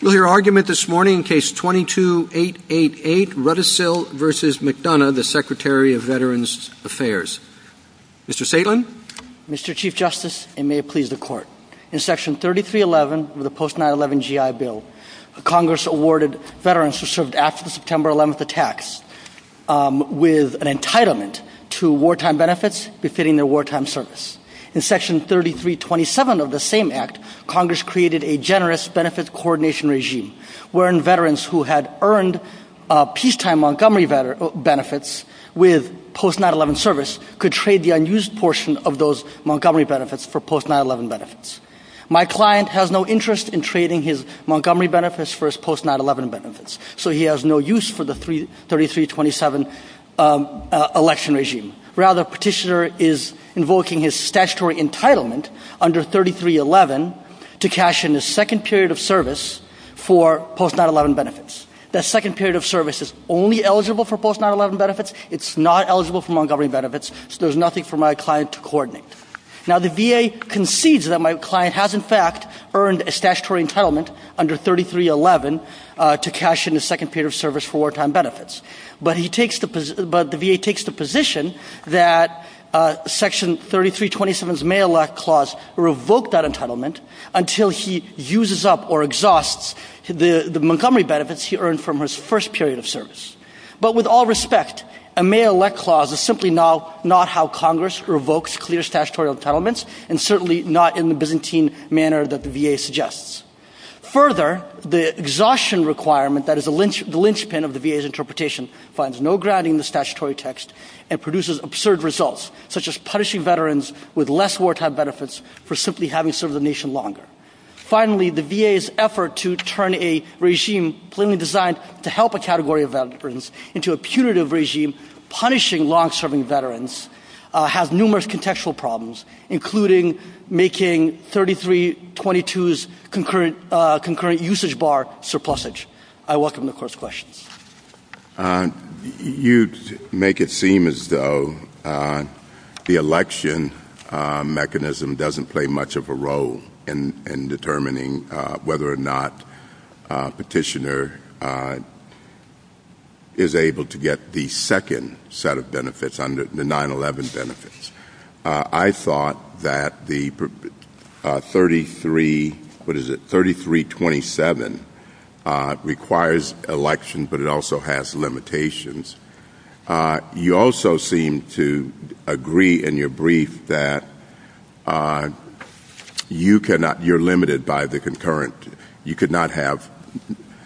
Mr. Chief Justice, and may it please the Court, in Section 3311 of the Post-911 GI Bill, Congress awarded veterans who served after the September 11th attacks with an entitlement to wartime benefits befitting their wartime service. In Section 3327 of the same Act, Congress created a Generous Benefit-Coordination Act for veterans who served after the September 11th attacks. Wherein, veterans who had earned peacetime Montgomery benefits with post-9-11 service could trade the unused portion of those Montgomery benefits for post-9-11 benefits. My client has no interest in trading his Montgomery benefits for his post-9-11 benefits, so he has no use for the 3-3-27 Election Regime. Rather, the petitioner is invoking his statutory entitlement under 3-3-11 to cash in a second period of service for post-9-11 benefits. That second period of service is only eligible for post-9-11 benefits, it's not eligible for Montgomery benefits, so there's nothing for my client to coordinate. Now, the VA concedes that my client has, in fact, earned a statutory entitlement under 3-3-11 to cash in a second period of service for wartime benefits. But the VA takes the position that Section 3-3-27's May Elect Clause revokes that entitlement until he uses up or exhausts the Montgomery benefits he earned from his first period of service. But with all respect, a May Elect Clause is simply not how Congress revokes clear statutory entitlements, and certainly not in the Byzantine manner that the VA suggests. Further, the exhaustion requirement that is the linchpin of the VA's interpretation finds no grounding in the statutory text and produces absurd results, such as punishing veterans with less wartime benefits for simply having served the nation longer. Finally, the VA's effort to turn a regime plainly designed to help a category of veterans into a punitive regime punishing long-serving veterans has numerous contextual problems, including making 3-3-22's concurrent usage bar surplusage. I welcome the Court's questions. You make it seem as though the election mechanism doesn't play much of a role in determining whether or not a petitioner is able to get the second set of benefits, the 9-11 benefits. I thought that the 33-27 requires election, but it also has limitations. You also seem to agree in your brief that you're limited by the concurrent. You could not have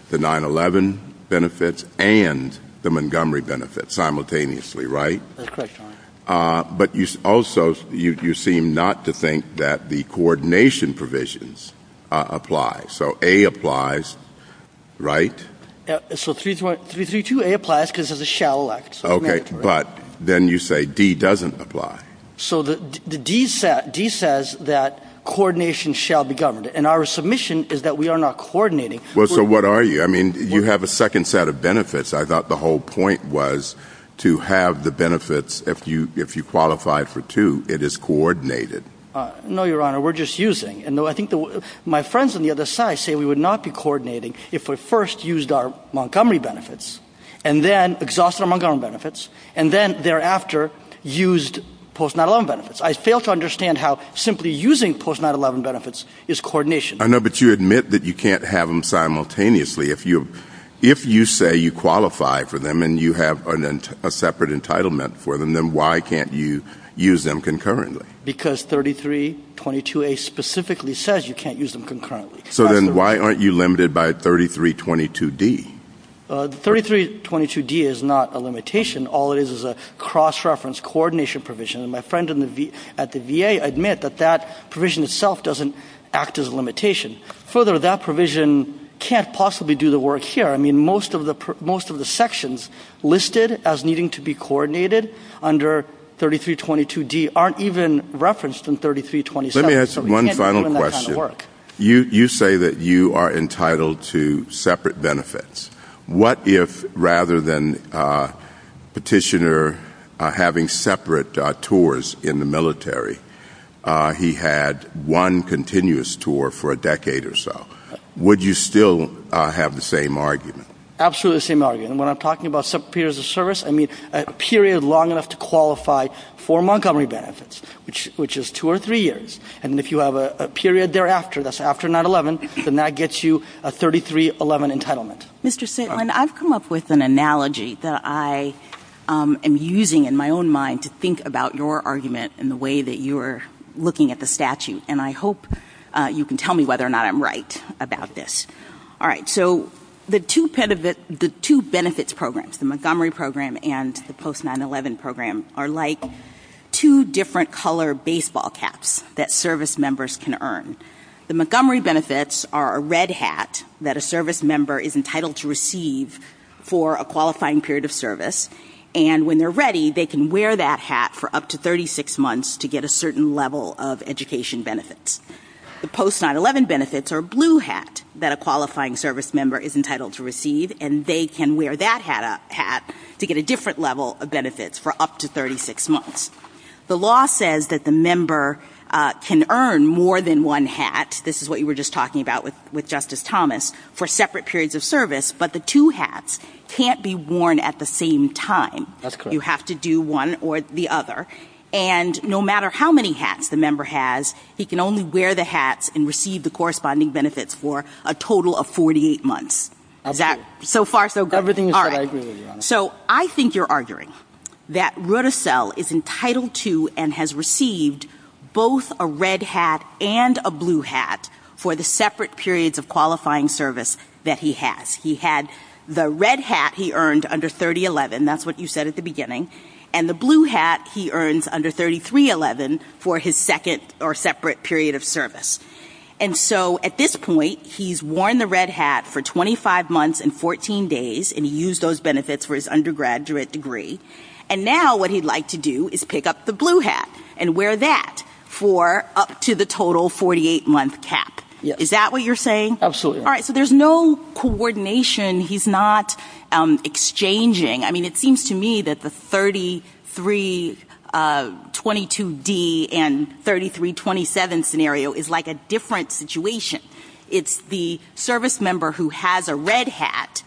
the 9-11 benefits and the Montgomery benefits simultaneously, right? That's correct, Your Honor. But also, you seem not to think that the coordination provisions apply. So, A applies, right? So, 3-3-2-A applies because it's a shall elect. Okay, but then you say D doesn't apply. So, D says that coordination shall be governed, and our submission is that we are not coordinating. Well, so what are you? I mean, you have a second set of benefits. I thought the whole point was to have the benefits, if you qualify for two, it is coordinated. No, Your Honor, we're just using. I think my friends on the other side say we would not be coordinating if we first used our Montgomery benefits, and then exhausted our Montgomery benefits, and then thereafter used post-9-11 benefits. I fail to understand how simply using post-9-11 benefits is coordination. I know, but you admit that you can't have them simultaneously. If you say you qualify for them and you have a separate entitlement for them, then why can't you use them concurrently? Because 33-22-A specifically says you can't use them concurrently. So, then why aren't you limited by 33-22-D? 33-22-D is not a limitation. All it is is a cross-reference coordination provision, and my friend at the VA admits that that provision itself doesn't act as a limitation. Further, that provision can't possibly do the work here. I mean, most of the sections listed as needing to be coordinated under 33-22-D aren't even referenced in 33-27. Let me ask one final question. You say that you are entitled to separate benefits. What if, rather than Petitioner having separate tours in the military, he had one continuous tour for a decade or so? Would you still have the same argument? Absolutely the same argument. When I'm talking about separate periods of service, I mean a period long enough to qualify for Montgomery benefits, which is two or three years, and if you have a period thereafter, that's after 9-11, then that gets you a 33-11 entitlement. Mr. Staitland, I've come up with an analogy that I am using in my own mind to think about your argument and the way that you are looking at the statute, and I hope you can tell me whether or not I'm right about this. All right, so the two benefits programs, the Montgomery program and the post-9-11 program, are like two different color baseball caps that service members can earn. The Montgomery benefits are a red hat that a service member is entitled to receive for a qualifying period of service, and when they're ready, they can wear that hat for up to 36 months to get a certain level of education benefits. The post-9-11 benefits are a blue hat that a qualifying service member is entitled to receive, and they can wear that hat to get a different level of benefits for up to 36 months. The law says that the member can earn more than one hat, this is what you were just talking about with Justice Thomas, for separate periods of service, but the two hats can't be worn at the same time. You have to do one or the other, and no matter how many hats the member has, he can only wear the hats and receive the corresponding benefits for a total of 48 months. Is that so far so good? Everything is what I agree with, Your Honor. All right, so I think you're arguing that Rutasell is entitled to and has received both a red hat and a blue hat for the separate periods of qualifying service that he has. He had the red hat he earned under 3011, that's what you said at the beginning, and the blue hat he earned under 3311 for his second or separate period of service. And so at this point, he's worn the red hat for 25 months and 14 days, and he used those benefits for his undergraduate degree, and now what he'd like to do is pick up the blue hat and wear that for up to the total 48-month cap. Is that what you're saying? Absolutely. All right, so there's no coordination. He's not exchanging. I mean, it seems to me that the 3322D and 3327 scenario is like a different situation. It's the service member who has a red hat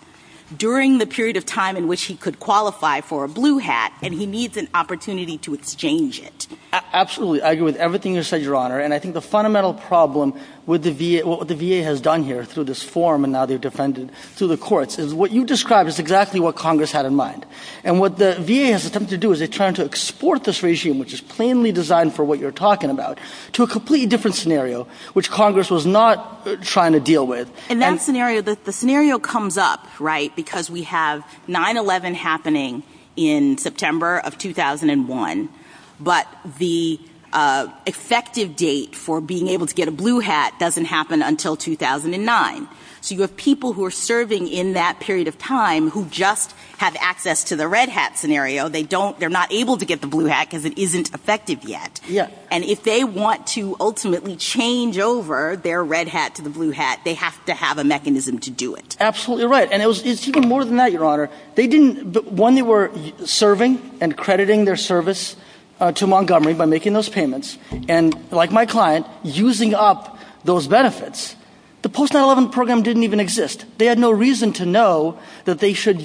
during the period of time in which he could qualify for a blue hat, and he needs an opportunity to exchange it. Absolutely. I agree with everything you said, Your Honor, and I think the fundamental problem with what the VA has done here through this forum and now they've defended through the courts is what you described is exactly what Congress had in mind. And what the VA has attempted to do is they're trying to export this regime, which is plainly designed for what you're talking about, to a completely different scenario, which Congress was not trying to deal with. In that scenario, the scenario comes up, right, because we have 9-11 happening in September of 2001, but the effective date for being able to get a blue hat doesn't happen until 2009. So you have people who are serving in that period of time who just have access to the red hat scenario. They're not able to get the blue hat because it isn't effective yet. And if they want to ultimately change over their red hat to the blue hat, they have to have a mechanism to do it. Absolutely right. And it's even more than that, Your Honor. One, they were serving and crediting their service to Montgomery by making those payments, and like my client, using up those benefits. The post-9-11 program didn't even exist. They had no reason to know that they should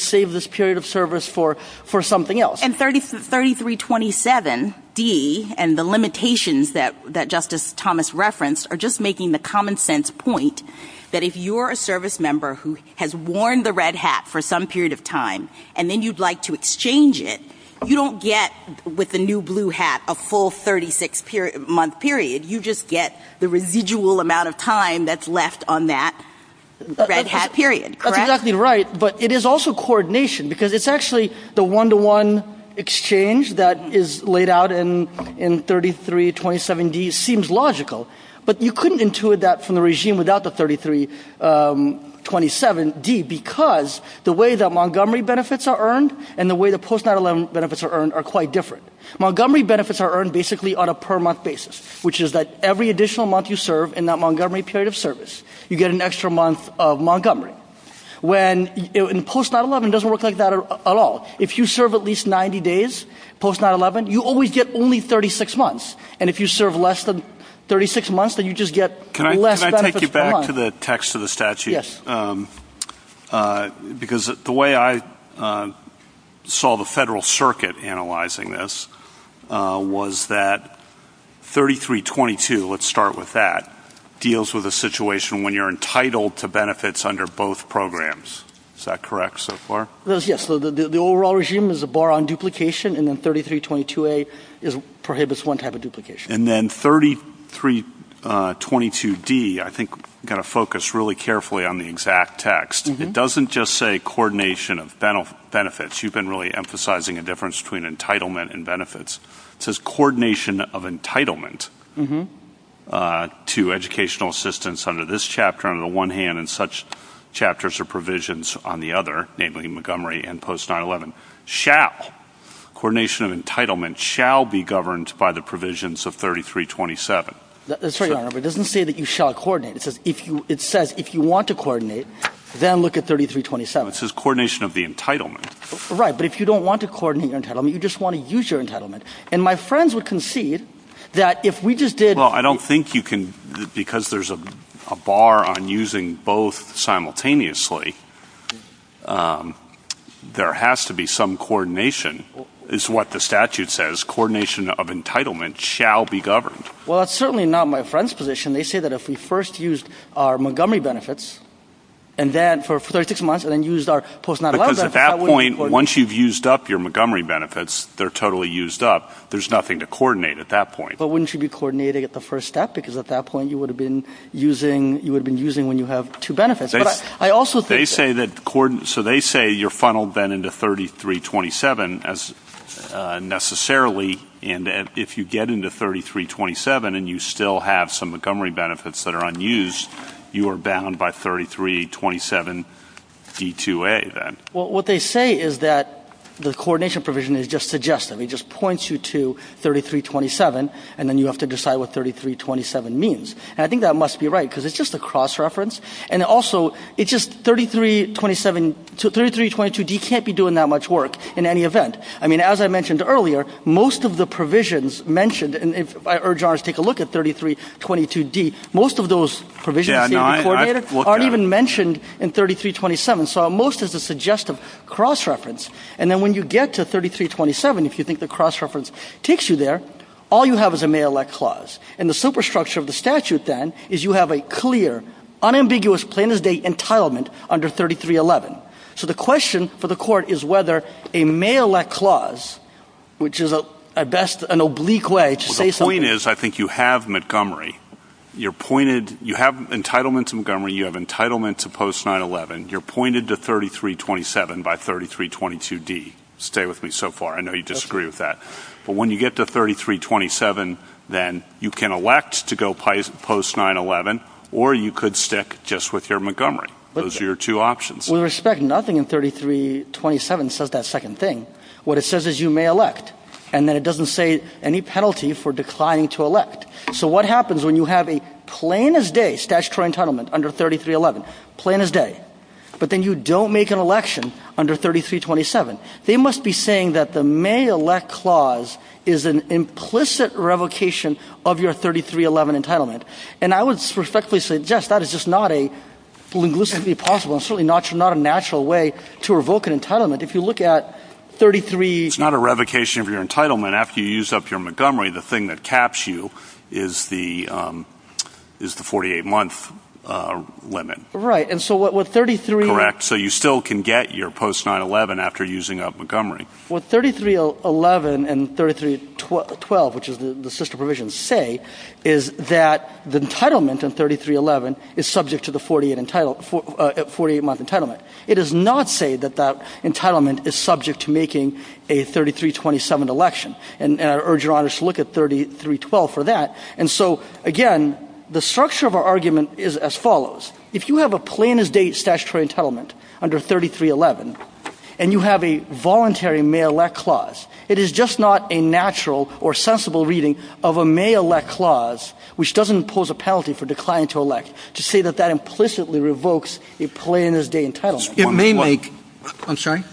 save this period of service for something else. And 3327D and the limitations that Justice Thomas referenced are just making the common sense point that if you're a service member who has worn the red hat for some period of time and then you'd like to exchange it, you don't get, with the new blue hat, a full 36-month period. You just get the residual amount of time that's left on that red hat period, correct? That's exactly right, but it is also coordination because it's actually the one-to-one exchange that is laid out in 3327D seems logical. But you couldn't intuit that from the regime without the 3327D because the way that Montgomery benefits are earned and the way the post-9-11 benefits are earned are quite different. Montgomery benefits are earned basically on a per-month basis, which is that every additional month you serve in that Montgomery period of service, you get an extra month of Montgomery. And post-9-11 doesn't work like that at all. If you serve at least 90 days post-9-11, you always get only 36 months. And if you serve less than 36 months, then you just get less benefits going on. Can I take you back to the text of the statute? Yes. Because the way I saw the Federal Circuit analyzing this was that 3322, let's start with that, deals with a situation when you're entitled to benefits under both programs. Is that correct so far? Yes. The overall regime is a bar on duplication, and then 3322A prohibits one type of duplication. And then 3322D, I think you've got to focus really carefully on the exact text. It doesn't just say coordination of benefits. You've been really emphasizing a difference between entitlement and benefits. It says coordination of entitlement to educational assistance under this chapter on the one hand and such chapters or provisions on the other, namely Montgomery and post-9-11. It doesn't say that you shall coordinate. It says if you want to coordinate, then look at 3327. It says coordination of the entitlement. Right, but if you don't want to coordinate your entitlement, you just want to use your entitlement. And my friends would concede that if we just did... Well, I don't think you can... ...is what the statute says, coordination of entitlement shall be governed. Well, that's certainly not my friend's position. They say that if we first used our Montgomery benefits, and then for 36 months, and then used our post-9-11 benefits... Because at that point, once you've used up your Montgomery benefits, they're totally used up, there's nothing to coordinate at that point. But wouldn't you be coordinating at the first step? Because at that point, you would have been using when you have two benefits. They say that... So they say you're funneled then into 3327, necessarily, and if you get into 3327 and you still have some Montgomery benefits that are unused, you are bound by 3327E2A, then. Well, what they say is that the coordination provision is just suggestive. It just points you to 3327, and then you have to decide what 3327 means. And I think that must be right, because it's just a cross-reference. And also, it's just 3322D can't be doing that much work in any event. I mean, as I mentioned earlier, most of the provisions mentioned, and I urge ours to take a look at 3322D, most of those provisions can't be coordinated, aren't even mentioned in 3327. So most is a suggestive cross-reference. And then when you get to 3327, if you think the cross-reference takes you there, all you have is a may-elect clause. And the superstructure of the statute then is you have a clear, unambiguous plaintiff's date entitlement under 3311. So the question for the court is whether a may-elect clause, which is at best an oblique way to say something. Well, the point is I think you have Montgomery. You have entitlement to Montgomery. You have entitlement to post-911. You're pointed to 3327 by 3322D. Stay with me so far. I know you disagree with that. But when you get to 3327, then you can elect to go post-911, or you could stick just with your Montgomery. Those are your two options. We respect nothing in 3327 that says that second thing. What it says is you may elect, and then it doesn't say any penalty for declining to elect. So what happens when you have a plain-as-day statutory entitlement under 3311, plain-as-day, but then you don't make an election under 3327? They must be saying that the may-elect clause is an implicit revocation of your 3311 entitlement. And I would respectfully say, yes, that is just not a linguistically possible and certainly not a natural way to revoke an entitlement. If you look at 33- It's not a revocation of your entitlement after you use up your Montgomery. The thing that caps you is the 48-month limit. Right, and so what 33- So you still can get your post-911 after using up Montgomery. What 3311 and 3312, which is the sister provision, say is that the entitlement in 3311 is subject to the 48-month entitlement. It does not say that that entitlement is subject to making a 3327 election. And I urge your honors to look at 3312 for that. And so, again, the structure of our argument is as follows. If you have a plain-as-day statutory entitlement under 3311 and you have a voluntary may-elect clause, it is just not a natural or sensible reading of a may-elect clause, which doesn't impose a penalty for declining to elect, to say that that implicitly revokes a plain-as-day entitlement. It may make-I'm sorry?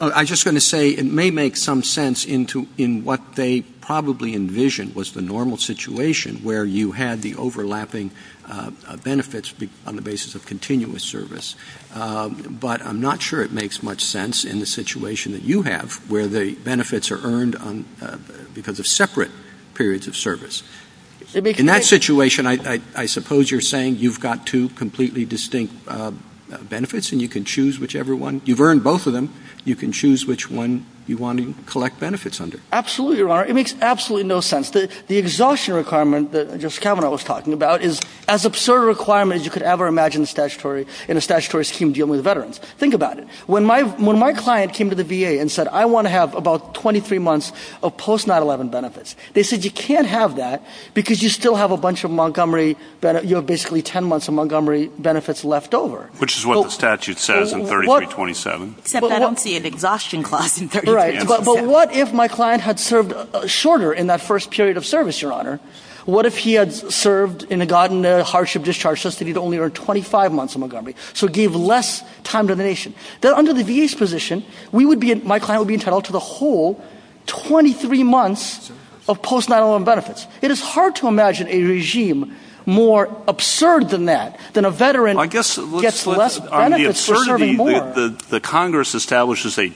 I'm just going to say it may make some sense in what they probably envisioned was the normal situation where you had the overlapping benefits on the basis of continuous service, but I'm not sure it makes much sense in the situation that you have where the benefits are earned because of separate periods of service. In that situation, I suppose you're saying you've got two completely distinct benefits and you can choose whichever one. You've earned both of them. You can choose which one you want to collect benefits under. Absolutely, your honor. It makes absolutely no sense. The exhaustion requirement that Justice Kavanaugh was talking about is as absurd a requirement as you could ever imagine in a statutory scheme dealing with veterans. Think about it. When my client came to the VA and said, I want to have about 23 months of post-9-11 benefits, they said you can't have that because you still have a bunch of Montgomery-you have basically 10 months of Montgomery benefits left over. Which is what the statute says in 3327. Except I don't see an exhaustion clause in 3327. Right. But what if my client had served shorter in that first period of service, your honor? What if he had served and gotten a hardship discharge just to get only 25 months of Montgomery? So give less time to the nation. Under the VA's position, my client would be entitled to the whole 23 months of post-9-11 benefits. It is hard to imagine a regime more absurd than that, than a veteran gets less benefits for serving more. The Congress establishes a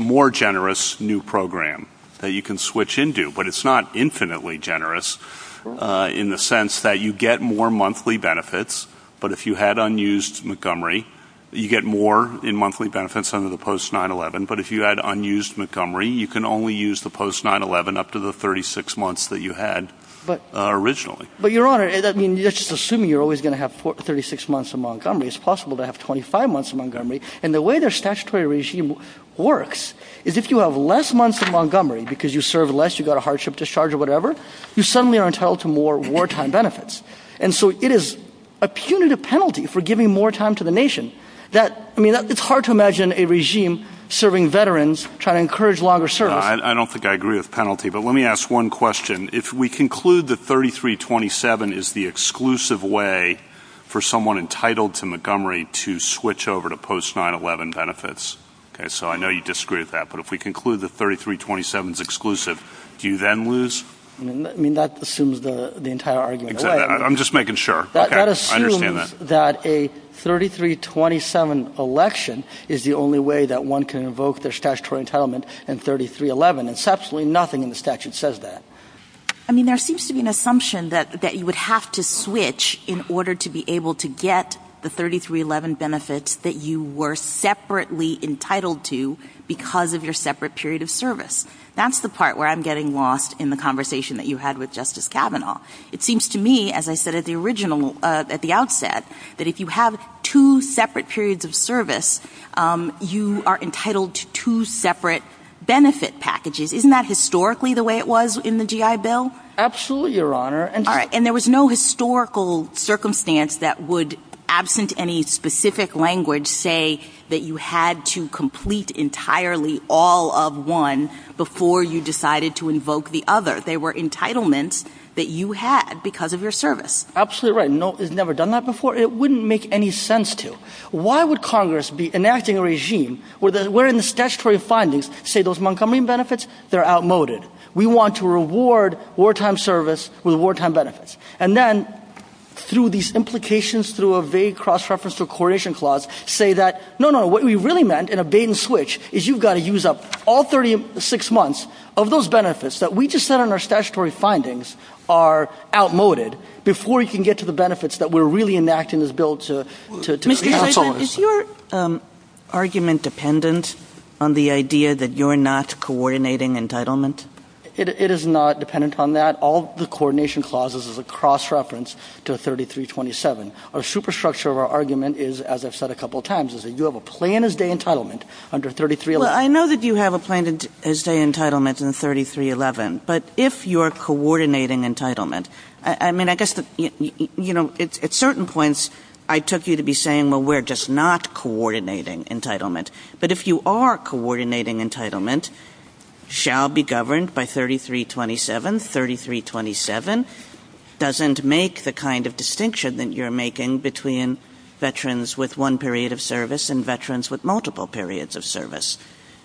more generous new program that you can switch into. But it's not infinitely generous in the sense that you get more monthly benefits. But if you had unused Montgomery, you get more in monthly benefits under the post-9-11. But if you had unused Montgomery, you can only use the post-9-11 up to the 36 months that you had originally. But your honor, let's just assume you're always going to have 36 months of Montgomery. It's possible to have 25 months of Montgomery. And the way the statutory regime works is if you have less months of Montgomery because you served less, you got a hardship discharge or whatever, you suddenly are entitled to more wartime benefits. And so it is a punitive penalty for giving more time to the nation. I mean, it's hard to imagine a regime serving veterans, trying to encourage longer service. I don't think I agree with penalty, but let me ask one question. If we conclude that 33-27 is the exclusive way for someone entitled to Montgomery to switch over to post-9-11 benefits, so I know you disagree with that, but if we conclude that 33-27 is exclusive, do you then lose? I mean, that assumes the entire argument. I'm just making sure. That assumes that a 33-27 election is the only way that one can invoke their statutory entitlement in 33-11. And there's absolutely nothing in the statute that says that. I mean, there seems to be an assumption that you would have to switch in order to be able to get the 33-11 benefits that you were separately entitled to because of your separate period of service. That's the part where I'm getting lost in the conversation that you had with Justice Kavanaugh. It seems to me, as I said at the outset, that if you have two separate periods of service, you are entitled to two separate benefit packages. Isn't that historically the way it was in the GI Bill? Absolutely, Your Honor. And there was no historical circumstance that would, absent any specific language, say that you had to complete entirely all of one before you decided to invoke the other. They were entitlements that you had because of your service. Absolutely right. It's never done that before. It wouldn't make any sense to. Why would Congress be enacting a regime where the statutory findings say those Montgomery benefits are outmoded? We want to reward wartime service with wartime benefits. And then, through these implications, through a vague cross-reference to a coordination clause, say that, no, no, what we really meant in a bait-and-switch is you've got to use up all 36 months of those benefits that we just said in our statutory findings are outmoded before you can get to the benefits that we're really enacting this bill to counsel us. Mr. Hyslop, is your argument dependent on the idea that you're not coordinating entitlement? It is not dependent on that. All the coordination clauses is a cross-reference to 3327. Our superstructure of our argument is, as I've said a couple of times, is that you have a plan-as-day entitlement under 3311. Well, I know that you have a plan-as-day entitlement in 3311. But if you're coordinating entitlement, I mean, I guess, you know, at certain points, I took you to be saying, well, we're just not coordinating entitlement. But if you are coordinating entitlement, shall be governed by 3327. 3327 doesn't make the kind of distinction that you're making between veterans with one period of service and veterans with multiple periods of service.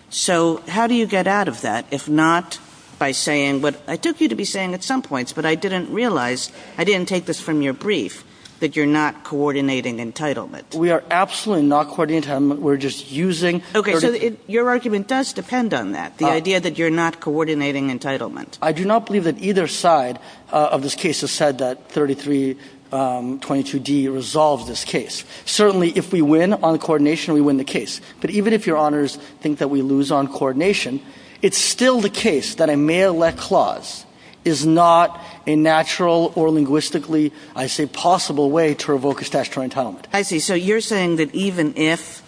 So how do you get out of that, if not by saying what I took you to be saying at some points, but I didn't realize, I didn't take this from your brief, that you're not coordinating entitlement? We are absolutely not coordinating entitlement. We're just using... Okay, so your argument does depend on that, the idea that you're not coordinating entitlement. I do not believe that either side of this case has said that 3322D resolves this case. Certainly, if we win on coordination, we win the case. But even if your honors think that we lose on coordination, it's still the case that a may-elect clause is not a natural or linguistically, I say, possible way to revoke a statutory entitlement. I see. So you're saying that even if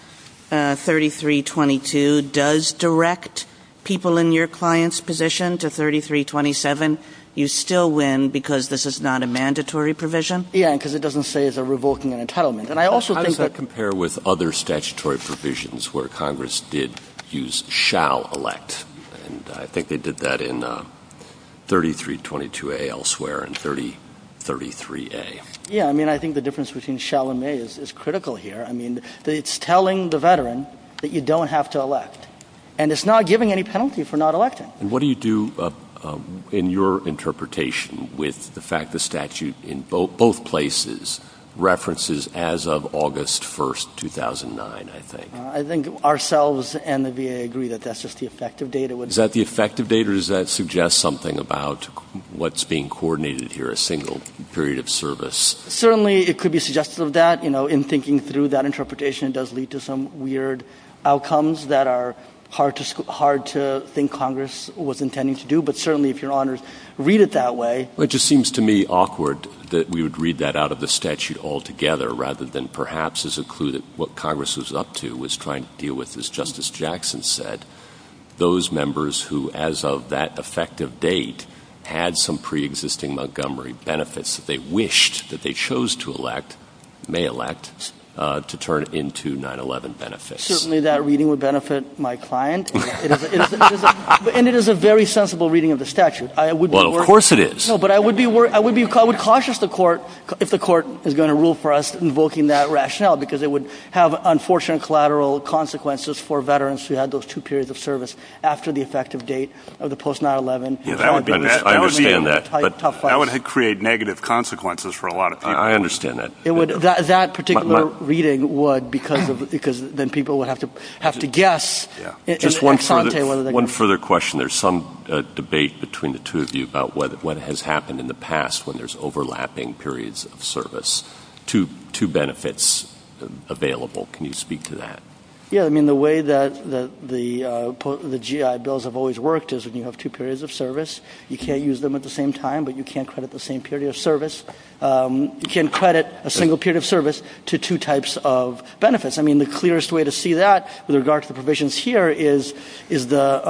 3322 does direct people in your client's position to 3327, you still win because this is not a mandatory provision? Yeah, because it doesn't say it's revoking an entitlement. And I also think that... Congress did use shall elect, and I think they did that in 3322A elsewhere and 3033A. Yeah, I mean, I think the difference between shall and may is critical here. I mean, it's telling the veteran that you don't have to elect, and it's not giving any penalty for not electing. And what do you do in your interpretation with the fact the statute in both places references as of August 1st, 2009, I think? I think ourselves and the VA agree that that's just the effective date. Is that the effective date, or does that suggest something about what's being coordinated here, a single period of service? Certainly, it could be suggestive of that. In thinking through that interpretation, it does lead to some weird outcomes that are hard to think Congress was intending to do. But certainly, if your honors read it that way... It just seems to me awkward that we would read that out of the statute altogether rather than perhaps as a clue that what Congress was up to was trying to deal with, as Justice Jackson said, those members who, as of that effective date, had some preexisting Montgomery benefits that they wished that they chose to elect, may elect, to turn into 9-11 benefits. Certainly, that reading would benefit my client. And it is a very sensible reading of the statute. Well, of course it is. No, but I would be cautious if the court is going to rule for us invoking that rationale because it would have unfortunate collateral consequences for veterans who had those two periods of service after the effective date of the post-9-11. I understand that. That would create negative consequences for a lot of people. I understand that. That particular reading would because then people would have to guess. One further question. There's some debate between the two of you about what has happened in the past when there's overlapping periods of service. Two benefits available. Can you speak to that? Yeah, I mean the way that the GI bills have always worked is when you have two periods of service, you can't use them at the same time, but you can't credit the same period of service. You can't credit a single period of service to two types of benefits. I mean the clearest way to see that with regard to the provisions here is the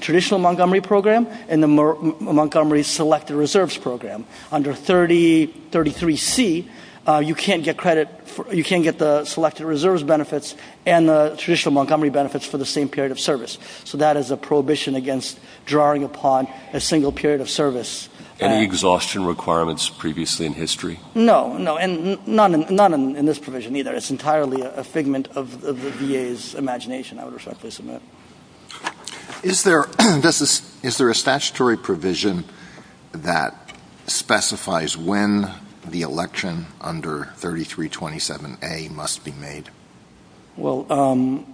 traditional Montgomery program and the Montgomery Selected Reserves program. Under 33C, you can't get the Selected Reserves benefits and the traditional Montgomery benefits for the same period of service. So that is a prohibition against drawing upon a single period of service. Any exhaustion requirements previously in history? No, and none in this provision either. It's entirely a figment of the VA's imagination, I would respectfully submit. Is there a statutory provision that specifies when the election under 3327A must be made? Well,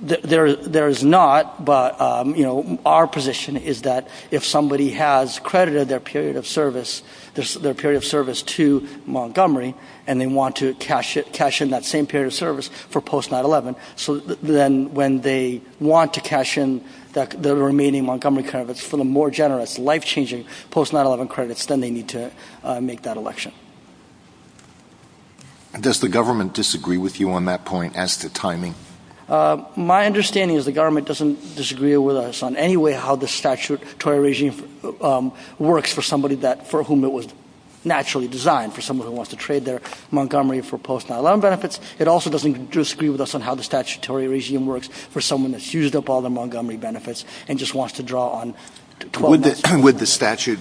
there is not, but our position is that if somebody has credited their period of service to Montgomery and they want to cash in that same period of service for post-9-11, so then when they want to cash in their remaining Montgomery credits for the more generous, life-changing post-9-11 credits, then they need to make that election. Does the government disagree with you on that point as to timing? My understanding is the government doesn't disagree with us on any way how the statutory regime works for somebody for whom it was naturally designed, for someone who wants to trade their Montgomery for post-9-11 benefits. It also doesn't disagree with us on how the statutory regime works for someone that's used up all their Montgomery benefits and just wants to draw on 12 months. Would the statute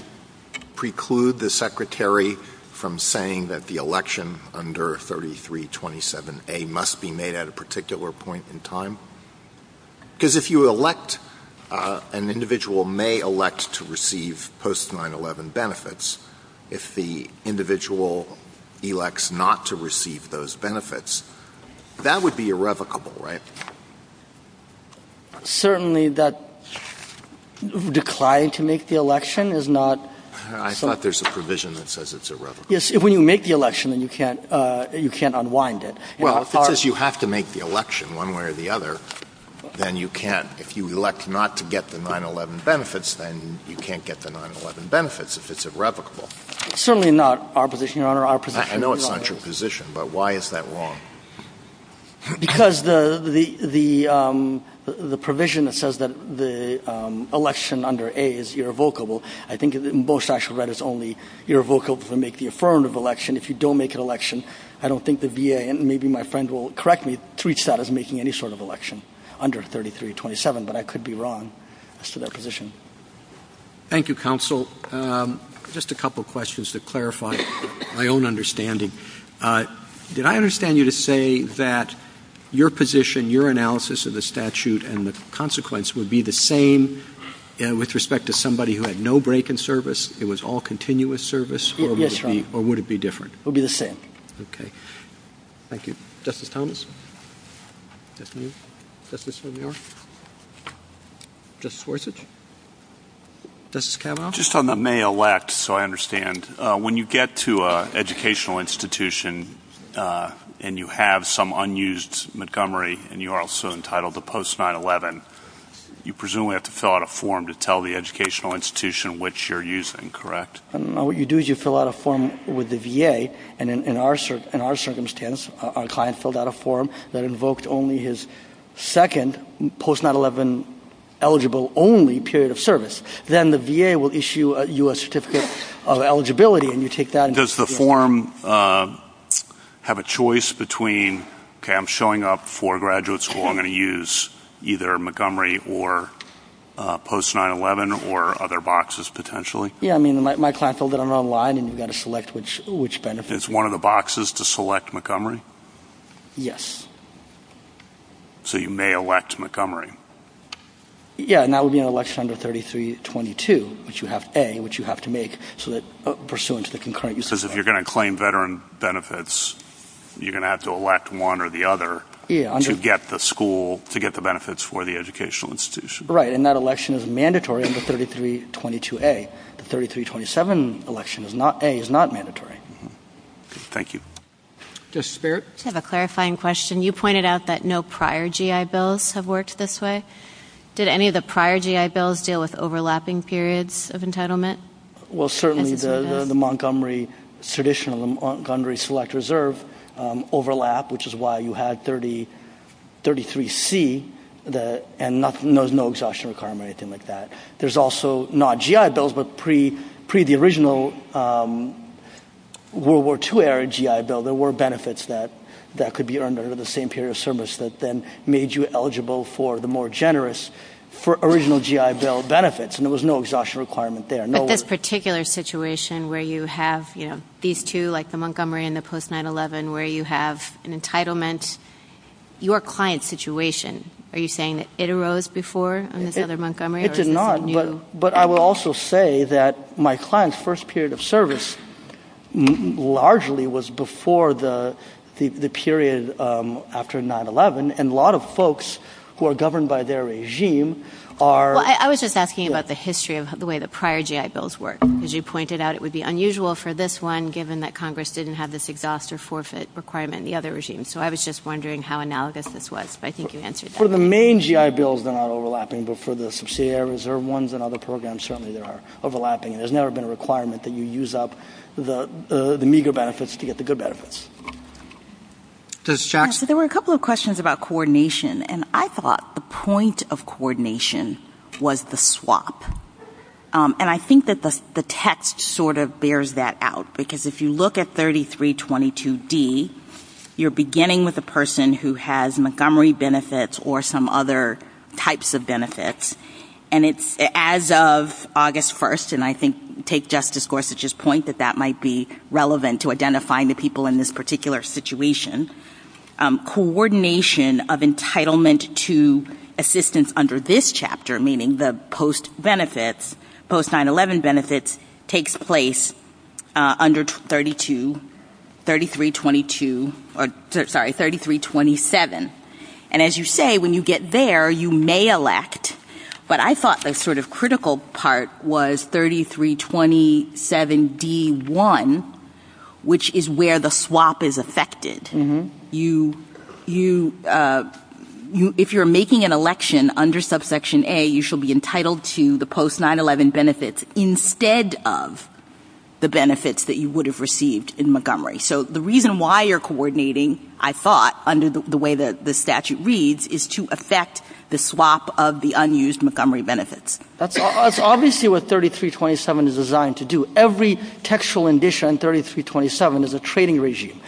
preclude the Secretary from saying that the election under 3327A must be made at a particular point in time? Because if you elect, an individual may elect to receive post-9-11 benefits if the individual elects not to receive those benefits. That would be irrevocable, right? Certainly, that decline to make the election is not... I thought there's a provision that says it's irrevocable. Yes, when you make the election, you can't unwind it. Well, if you have to make the election one way or the other, then you can. If you elect not to get the 9-11 benefits, then you can't get the 9-11 benefits. It's irrevocable. Certainly not our position, Your Honor. I know it's not your position, but why is that wrong? Because the provision that says that the election under A is irrevocable, I think in both statutes it's only irrevocable to make the affirmative election. If you don't make an election, I don't think the VA, and maybe my friend will correct me, treats that as making any sort of election under 3327, but I could be wrong as to that position. Thank you, Counsel. Just a couple of questions to clarify my own understanding. Did I understand you to say that your position, your analysis of the statute, and the consequence would be the same with respect to somebody who had no break in service? It was all continuous service? Yes, Your Honor. Or would it be different? It would be the same. Okay. Thank you. Justice Thomas? Justice O'Neill? Justice Forsett? Justice Kavanaugh? Just on the may elect, so I understand, when you get to an educational institution and you have some unused Montgomery, and you are also entitled to post-9-11, you presumably have to fill out a form to tell the educational institution which you're using, correct? What you do is you fill out a form with the VA, and in our circumstance, our client filled out a form that invoked only his second post-9-11 eligible only period of service. Then the VA will issue you a certificate of eligibility, and you take that. Does the form have a choice between, okay, I'm showing up for a graduate school. I'm going to use either Montgomery or post-9-11 or other boxes potentially? Yeah, I mean, my client filled it out online, and you've got to select which benefit. It's one of the boxes to select Montgomery? Yes. So you may elect Montgomery. Yeah, and that would be an election under 3322, which you have A, which you have to make, pursuant to the concurrent use of that. Because if you're going to claim veteran benefits, you're going to have to elect one or the other to get the school, to get the benefits for the educational institution. Right, and that election is mandatory under 3322A. The 3327A is not mandatory. Thank you. Justice Barrett? I have a clarifying question. You pointed out that no prior GI bills have worked this way. Did any of the prior GI bills deal with overlapping periods of entitlement? Well, certainly the Montgomery traditional, the Montgomery Select Reserve overlap, which is why you had 33C, and there was no exhaustion requirement or anything like that. There's also not GI bills, but pre the original World War II era GI bill, there were benefits that could be earned under the same period of service that then made you eligible for the more generous, for original GI bill benefits, and there was no exhaustion requirement there. But this particular situation where you have these two, like the Montgomery and the post-9-11, where you have an entitlement, your client's situation, are you saying it arose before? It did not, but I will also say that my client's first period of service largely was before the period after 9-11, and a lot of folks who are governed by their regime are. Well, I was just asking about the history of the way the prior GI bills worked. As you pointed out, it would be unusual for this one, given that Congress didn't have this exhaust or forfeit requirement in the other regimes, so I was just wondering how analogous this was, but I think you answered that. Well, for the main GI bills, they're not overlapping, but for the subsidiary reserve ones and other programs, certainly they are overlapping. There's never been a requirement that you use up the meager benefits to get the good benefits. There were a couple of questions about coordination, and I thought the point of coordination was the swap, and I think that the text sort of bears that out, because if you look at 3322D, you're beginning with a person who has Montgomery benefits or some other types of benefits, and as of August 1st, and I think take Justice Gorsuch's point that that might be relevant to identifying the people in this particular situation, coordination of entitlement to assistance under this chapter, meaning the post-9-11 benefits, takes place under 3327, and as you say, when you get there, you may elect, but I thought the sort of critical part was 3327D-1, which is where the swap is affected. If you're making an election under subsection A, you shall be entitled to the post-9-11 benefits. Instead of the benefits that you would have received in Montgomery. So the reason why you're coordinating, I thought, under the way that the statute reads, is to affect the swap of the unused Montgomery benefits. That's obviously what 3327 is designed to do. Every textual edition of 3327 is a trading regime.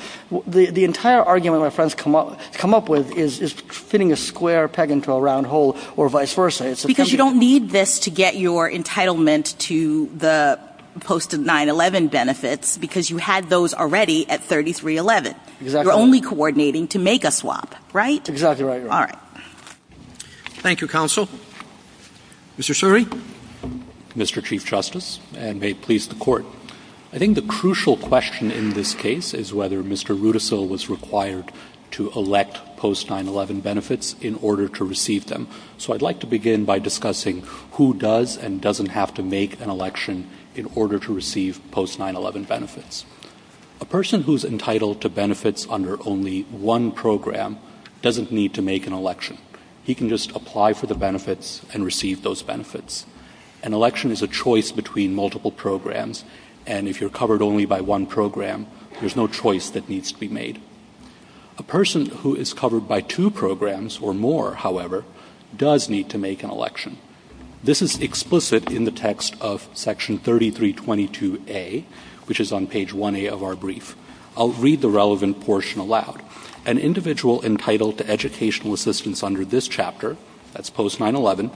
The entire argument my friends come up with is fitting a square peg into a round hole or vice versa. Because you don't need this to get your entitlement to the post-9-11 benefits, because you had those already at 3311. You're only coordinating to make a swap, right? Exactly right. All right. Thank you, Counsel. Mr. Suri. Mr. Chief Justice, and may it please the Court, I think the crucial question in this case is whether Mr. Rudisill was required to elect post-9-11 benefits in order to receive them. So I'd like to begin by discussing who does and doesn't have to make an election in order to receive post-9-11 benefits. A person who's entitled to benefits under only one program doesn't need to make an election. He can just apply for the benefits and receive those benefits. An election is a choice between multiple programs, and if you're covered only by one program, there's no choice that needs to be made. A person who is covered by two programs or more, however, does need to make an election. This is explicit in the text of Section 3322A, which is on page 1A of our brief. I'll read the relevant portion aloud. An individual entitled to educational assistance under this chapter, that's post-9-11,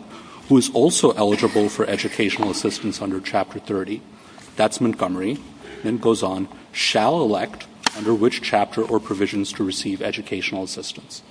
who is also eligible for educational assistance under Chapter 30, that's Montgomery, and it goes on, shall elect under which chapter or provisions to receive educational assistance.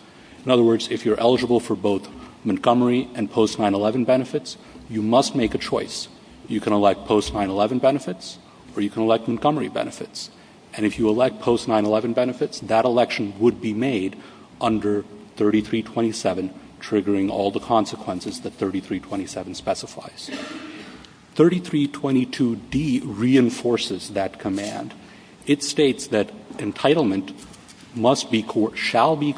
In other words, if you're eligible for both Montgomery and post-9-11 benefits, you must make a choice. You can elect post-9-11 benefits, or you can elect Montgomery benefits. And if you elect post-9-11 benefits, that election would be made under 3327, triggering all the consequences that 3327 specifies. 3322D reinforces that command. It states that entitlement must be, shall be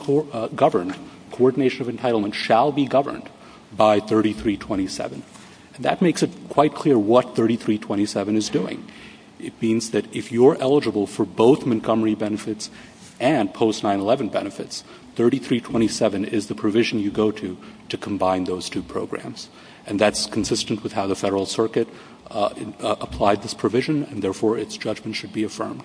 governed, coordination of entitlement shall be governed by 3327. And that makes it quite clear what 3327 is doing. It means that if you're eligible for both Montgomery benefits and post-9-11 benefits, 3327 is the provision you go to to combine those two programs. And that's consistent with how the Federal Circuit applied this provision, and therefore its judgment should be affirmed.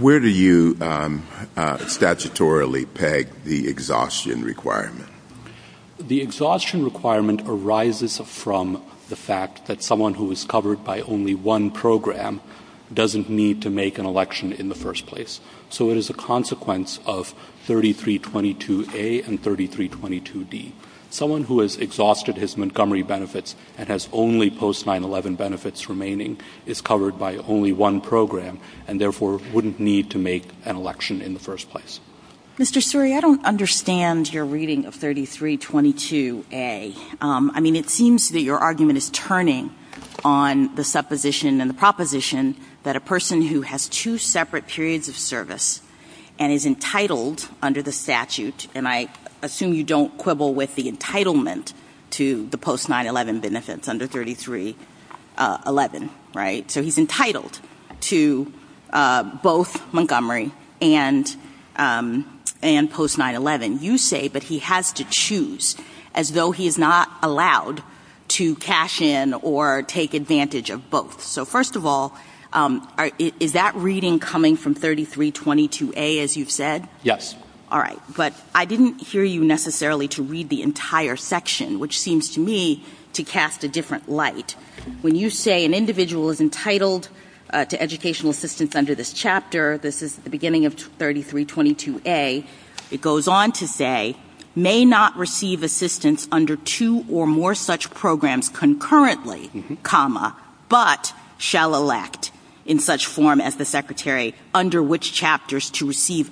Where do you statutorily peg the exhaustion requirement? The exhaustion requirement arises from the fact that someone who is covered by only one program doesn't need to make an election in the first place. So it is a consequence of 3322A and 3322D. Someone who has exhausted his Montgomery benefits and has only post-9-11 benefits remaining is covered by only one program, and therefore wouldn't need to make an election in the first place. Mr. Sturey, I don't understand your reading of 3322A. I mean, it seems that your argument is turning on the supposition and the proposition that a person who has two separate periods of service and is entitled under the statute, and I assume you don't quibble with the entitlement to the post-9-11 benefits under 3311, right? So he's entitled to both Montgomery and post-9-11. You say that he has to choose as though he is not allowed to cash in or take advantage of both. So first of all, is that reading coming from 3322A as you've said? Yes. All right, but I didn't hear you necessarily to read the entire section, which seems to me to cast a different light. When you say an individual is entitled to educational assistance under this chapter, this is the beginning of 3322A, it goes on to say, may not receive assistance under two or more such programs concurrently, but shall elect in such form as the secretary under which chapters to receive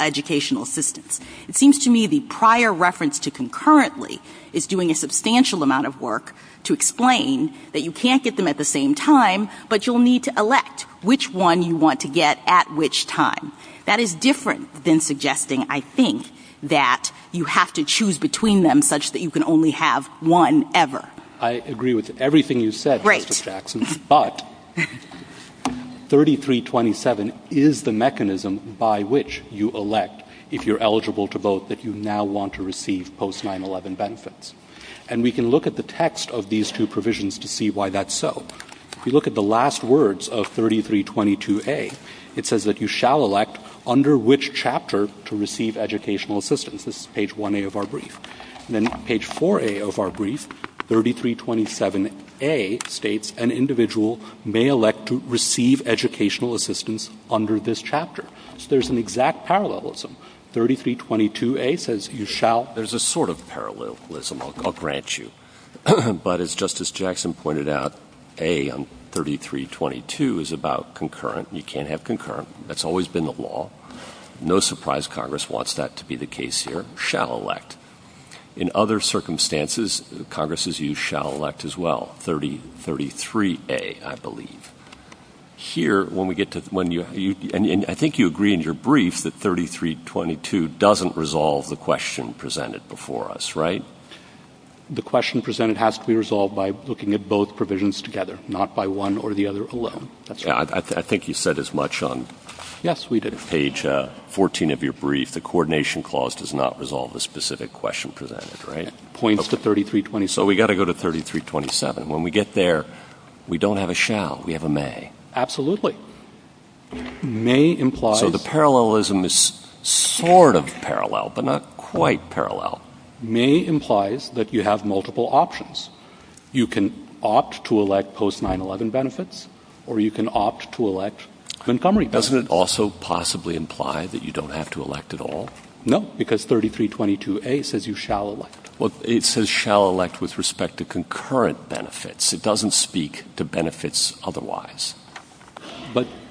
educational assistance. It seems to me the prior reference to concurrently is doing a substantial amount of work to explain that you can't get them at the same time, but you'll need to elect which one you want to get at which time. That is different than suggesting, I think, that you have to choose between them such that you can only have one ever. I agree with everything you said, Mrs. Jackson, but 3327 is the mechanism by which you elect, if you're eligible to vote, that you now want to receive post-9-11 benefits. And we can look at the text of these two provisions to see why that's so. If you look at the last words of 3322A, it says that you shall elect under which chapter to receive educational assistance. This is page 1A of our brief. And then page 4A of our brief, 3327A states, an individual may elect to receive educational assistance under this chapter. So there's an exact parallelism. 3322A says you shall. There's a sort of parallelism. I'll grant you. But as Justice Jackson pointed out, A on 3322 is about concurrent. You can't have concurrent. That's always been the law. No surprise Congress wants that to be the case here. Shall elect. In other circumstances, Congress has used shall elect as well. 3033A, I believe. Here, when we get to when you, and I think you agree in your brief, that 3322 doesn't resolve the question presented before us, right? The question presented has to be resolved by looking at both provisions together, not by one or the other alone. I think you said as much on page 14 of your brief. The coordination clause does not resolve the specific question presented, right? It points to 3327. So we've got to go to 3327. When we get there, we don't have a shall. We have a may. Absolutely. May implies. So the parallelism is sort of parallel, but not quite parallel. May implies that you have multiple options. You can opt to elect post-9-11 benefits, or you can opt to elect Montgomery benefits. Doesn't it also possibly imply that you don't have to elect at all? No, because 3322A says you shall elect. Well, it says shall elect with respect to concurrent benefits. It doesn't speak to benefits otherwise.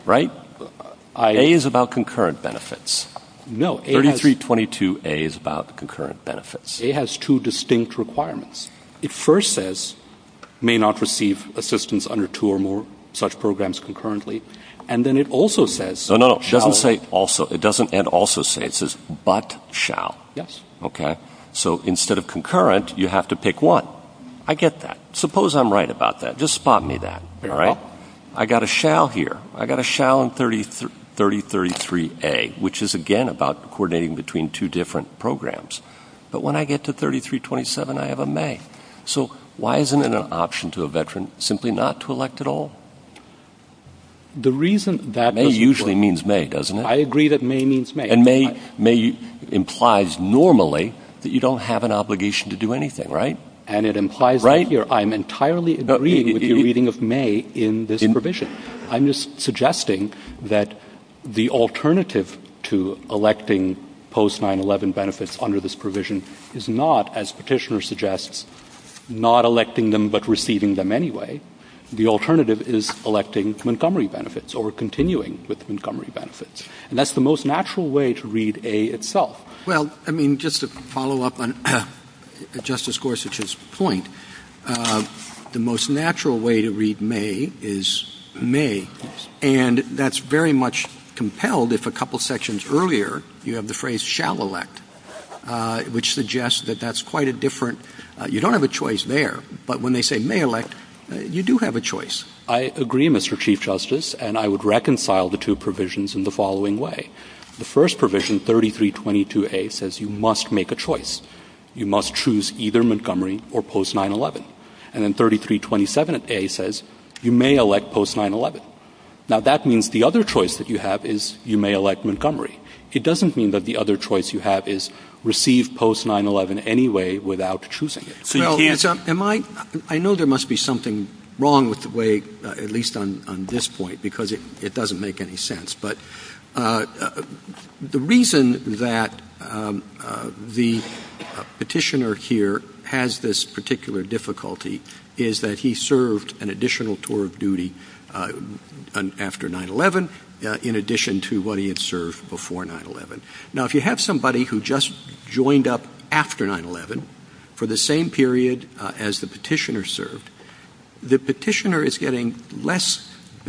Right? A is about concurrent benefits. No. 3322A is about concurrent benefits. A has two distinct requirements. It first says may not receive assistance under two or more such programs concurrently, and then it also says shall. No, no. It doesn't say also. It doesn't also say. It says but shall. Yes. Okay. So instead of concurrent, you have to pick one. I get that. Suppose I'm right about that. Just spot me that. All right? I've got a shall here. I've got a shall in 3033A, which is, again, about coordinating between two different programs. But when I get to 3327, I have a may. So why isn't it an option to a veteran simply not to elect at all? May usually means may, doesn't it? I agree that may means may. And may implies normally that you don't have an obligation to do anything, right? And it implies that I'm entirely agreeing with your reading of may in this provision. I'm just suggesting that the alternative to electing post-9-11 benefits under this provision is not, as Petitioner suggests, not electing them but receiving them anyway. The alternative is electing Montgomery benefits or continuing with Montgomery benefits. And that's the most natural way to read A itself. Well, I mean, just to follow up on Justice Gorsuch's point, the most natural way to read may is may. And that's very much compelled if a couple sections earlier you have the phrase shall elect, which suggests that that's quite a different... You don't have a choice there, but when they say may elect, you do have a choice. I agree, Mr. Chief Justice, and I would reconcile the two provisions in the following way. The first provision, 3322A, says you must make a choice. You must choose either Montgomery or post-9-11. And then 3327A says you may elect post-9-11. Now, that means the other choice that you have is you may elect Montgomery. It doesn't mean that the other choice you have is receive post-9-11 anyway without choosing it. I know there must be something wrong with the way, at least on this point, because it doesn't make any sense. But the reason that the petitioner here has this particular difficulty is that he served an additional tour of duty after 9-11, in addition to what he had served before 9-11. Now, if you have somebody who just joined up after 9-11 for the same period as the petitioner served, the petitioner is getting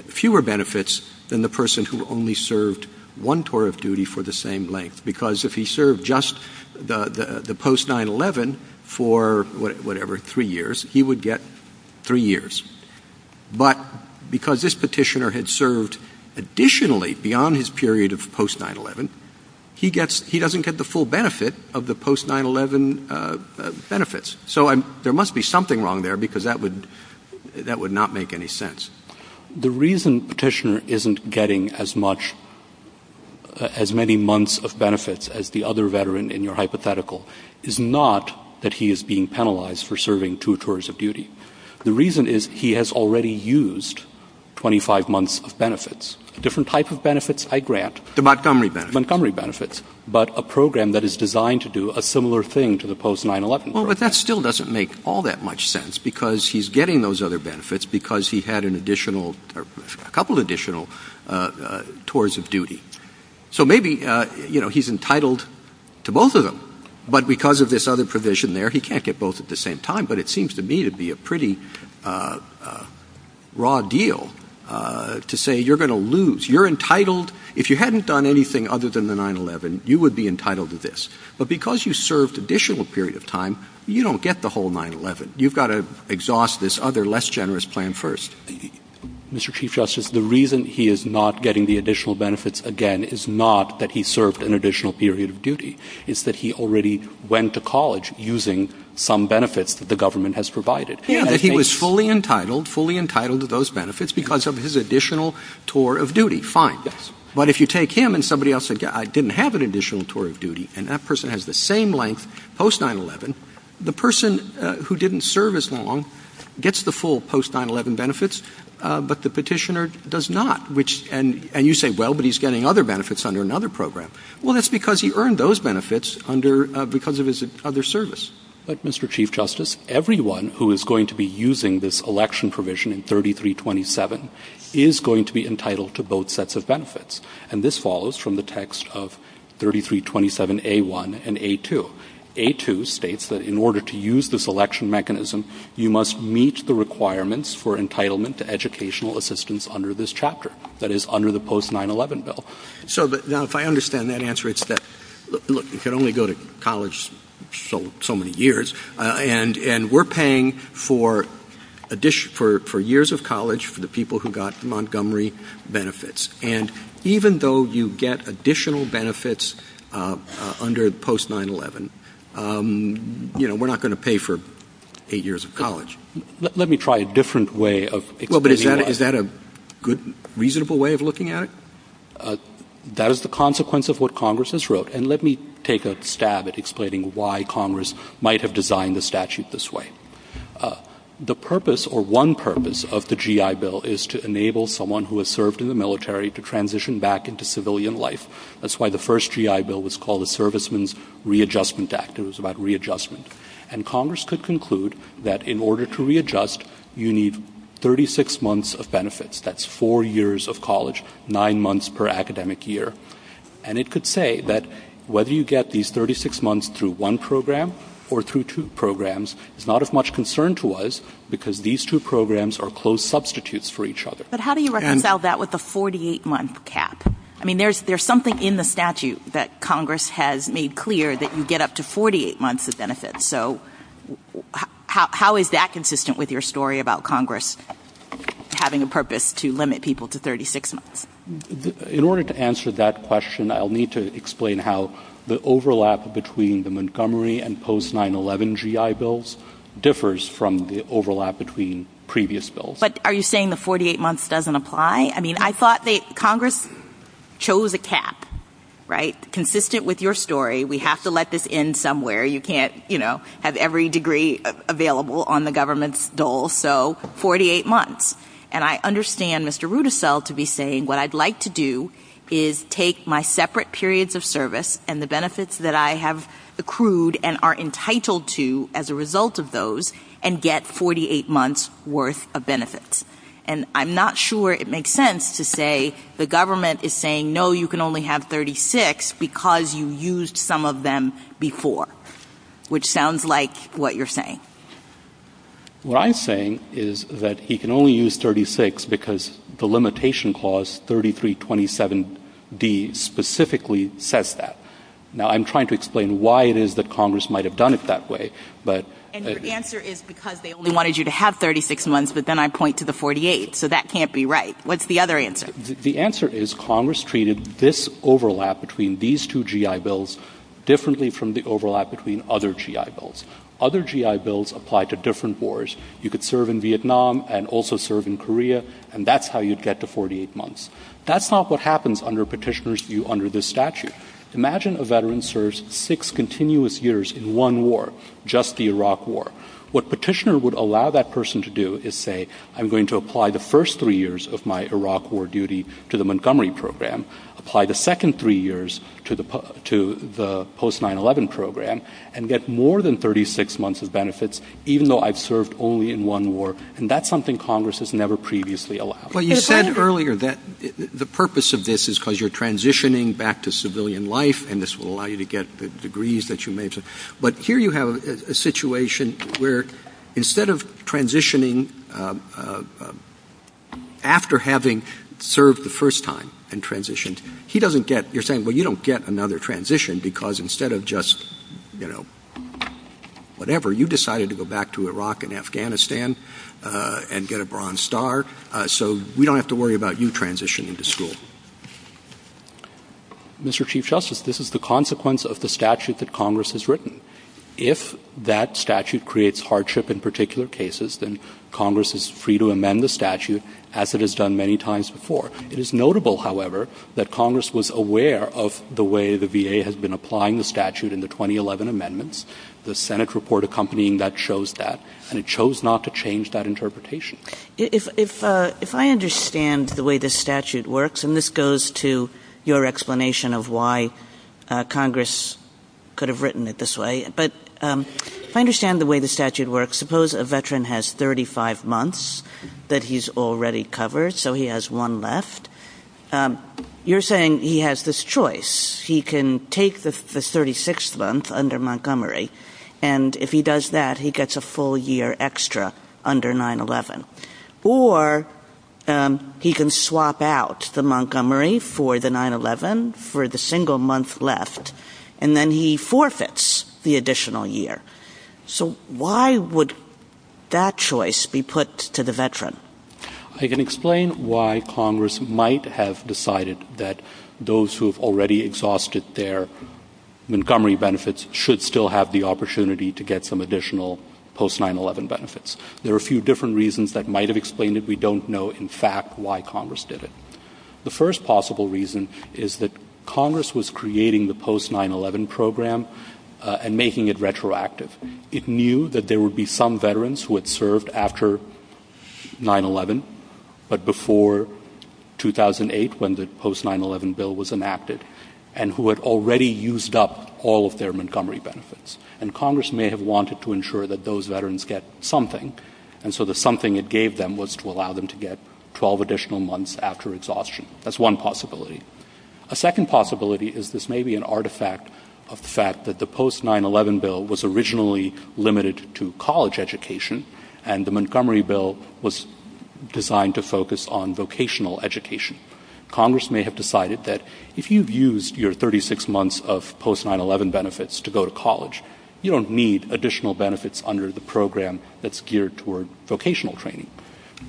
fewer benefits than the person who only served one tour of duty for the same length. Because if he served just the post-9-11 for whatever, three years, he would get three years. But because this petitioner had served additionally beyond his period of post-9-11, he doesn't get the full benefit of the post-9-11 benefits. So there must be something wrong there because that would not make any sense. The reason petitioner isn't getting as many months of benefits as the other veteran in your hypothetical is not that he is being penalized for serving two tours of duty. The reason is he has already used 25 months of benefits. Different type of benefits I grant. The Montgomery benefits. Montgomery benefits. But a program that is designed to do a similar thing to the post-9-11 program. But that still doesn't make all that much sense because he is getting those other benefits because he had a couple additional tours of duty. So maybe he is entitled to both of them. But because of this other provision there, he can't get both at the same time. But it seems to me to be a pretty raw deal to say you are going to lose. You are entitled. If you hadn't done anything other than the 9-11, you would be entitled to this. But because you served an additional period of time, you don't get the whole 9-11. You have to exhaust this other less generous plan first. Mr. Chief Justice, the reason he is not getting the additional benefits again is not that he served an additional period of duty. It is that he already went to college using some benefits that the government has provided. He was fully entitled to those benefits because of his additional tour of duty. Fine. But if you take him and somebody else says I didn't have an additional tour of duty and that person has the same length post-9-11, the person who didn't serve as long gets the full post-9-11 benefits, but the petitioner does not. And you say, well, but he is getting other benefits under another program. Well, that is because he earned those benefits because of his other service. But, Mr. Chief Justice, everyone who is going to be using this election provision in 3327 is going to be entitled to both sets of benefits. And this follows from the text of 3327A1 and A2. A2 states that in order to use this election mechanism, you must meet the requirements for entitlement to educational assistance under this chapter. That is, under the post-9-11 bill. Now, if I understand that answer, it is that, look, you can only go to college so many years, and we are paying for years of college for the people who got Montgomery benefits. And even though you get additional benefits under post-9-11, you know, we are not going to pay for eight years of college. Let me try a different way of equating that. Well, but is that a good, reasonable way of looking at it? That is the consequence of what Congress has wrote. And let me take a stab at explaining why Congress might have designed the statute this way. The purpose, or one purpose, of the GI Bill is to enable someone who has served in the military to transition back into civilian life. That is why the first GI Bill was called the Servicemen's Readjustment Act. It was about readjustment. And Congress could conclude that in order to readjust, you need 36 months of benefits. That is four years of college, nine months per academic year. And it could say that whether you get these 36 months through one program or through two programs is not of much concern to us because these two programs are closed substitutes for each other. But how do you reconcile that with the 48-month cap? I mean, there is something in the statute that Congress has made clear that you get up to 48 months of benefits. So how is that consistent with your story about Congress having a purpose to limit people to 36 months? In order to answer that question, I will need to explain how the overlap between the Montgomery and post-9-11 GI Bills differs from the overlap between previous bills. But are you saying the 48 months does not apply? I mean, I thought that Congress chose a cap, right, consistent with your story. We have to let this in somewhere. You can't, you know, have every degree available on the government's dole. So 48 months. And I understand Mr. Rudisell to be saying what I would like to do is take my separate periods of service and the benefits that I have accrued and are entitled to as a result of those and get 48 months' worth of benefits. And I'm not sure it makes sense to say the government is saying no, you can only have 36 because you used some of them before, which sounds like what you're saying. What I'm saying is that he can only use 36 because the limitation clause, 3327D, specifically says that. Now, I'm trying to explain why it is that Congress might have done it that way. And your answer is because they only wanted you to have 36 months, but then I point to the 48. So that can't be right. What's the other answer? The answer is Congress treated this overlap between these two GI bills differently from the overlap between other GI bills. Other GI bills apply to different wars. You could serve in Vietnam and also serve in Korea, and that's how you'd get to 48 months. That's not what happens under Petitioner's view under this statute. Imagine a veteran serves six continuous years in one war, just the Iraq war. What Petitioner would allow that person to do is say, I'm going to apply the first three years of my Iraq war duty to the Montgomery program, apply the second three years to the post-9-11 program, and get more than 36 months of benefits, even though I've served only in one war, and that's something Congress has never previously allowed. Well, you said earlier that the purpose of this is because you're transitioning back to civilian life, and this will allow you to get the degrees that you mentioned. But here you have a situation where instead of transitioning after having served the first time and transitioned, you're saying, well, you don't get another transition because instead of just, you know, whatever, you decided to go back to Iraq and Afghanistan and get a Bronze Star. So we don't have to worry about you transitioning to school. Mr. Chief Justice, this is the consequence of the statute that Congress has written. If that statute creates hardship in particular cases, then Congress is free to amend the statute, as it has done many times before. It is notable, however, that Congress was aware of the way the VA has been applying the statute in the 2011 amendments, the Senate report accompanying that shows that, and it chose not to change that interpretation. If I understand the way this statute works, and this goes to your explanation of why Congress could have written it this way, but if I understand the way the statute works, suppose a veteran has 35 months that he's already covered, so he has one left. You're saying he has this choice. He can take the 36th month under Montgomery, and if he does that, he gets a full year extra under 9-11. Or he can swap out the Montgomery for the 9-11 for the single month left, and then he forfeits the additional year. So why would that choice be put to the veteran? I can explain why Congress might have decided that those who have already exhausted their Montgomery benefits should still have the opportunity to get some additional post-9-11 benefits. There are a few different reasons that might have explained it. We don't know, in fact, why Congress did it. The first possible reason is that Congress was creating the post-9-11 program and making it retroactive. It knew that there would be some veterans who had served after 9-11, but before 2008, when the post-9-11 bill was enacted, and who had already used up all of their Montgomery benefits. And Congress may have wanted to ensure that those veterans get something, and so the something it gave them was to allow them to get 12 additional months after exhaustion. That's one possibility. A second possibility is this may be an artifact of the fact that the post-9-11 bill was originally limited to college education, and the Montgomery bill was designed to focus on vocational education. Congress may have decided that if you've used your 36 months of post-9-11 benefits to go to college, you don't need additional benefits under the program that's geared toward vocational training.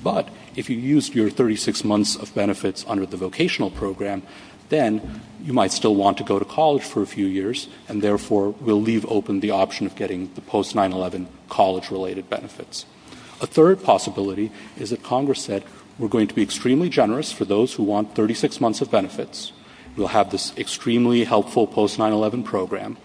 But if you used your 36 months of benefits under the vocational program, then you might still want to go to college for a few years, and therefore will leave open the option of getting the post-9-11 college-related benefits. A third possibility is that Congress said, we're going to be extremely generous for those who want 36 months of benefits. We'll have this extremely helpful post-9-11 program.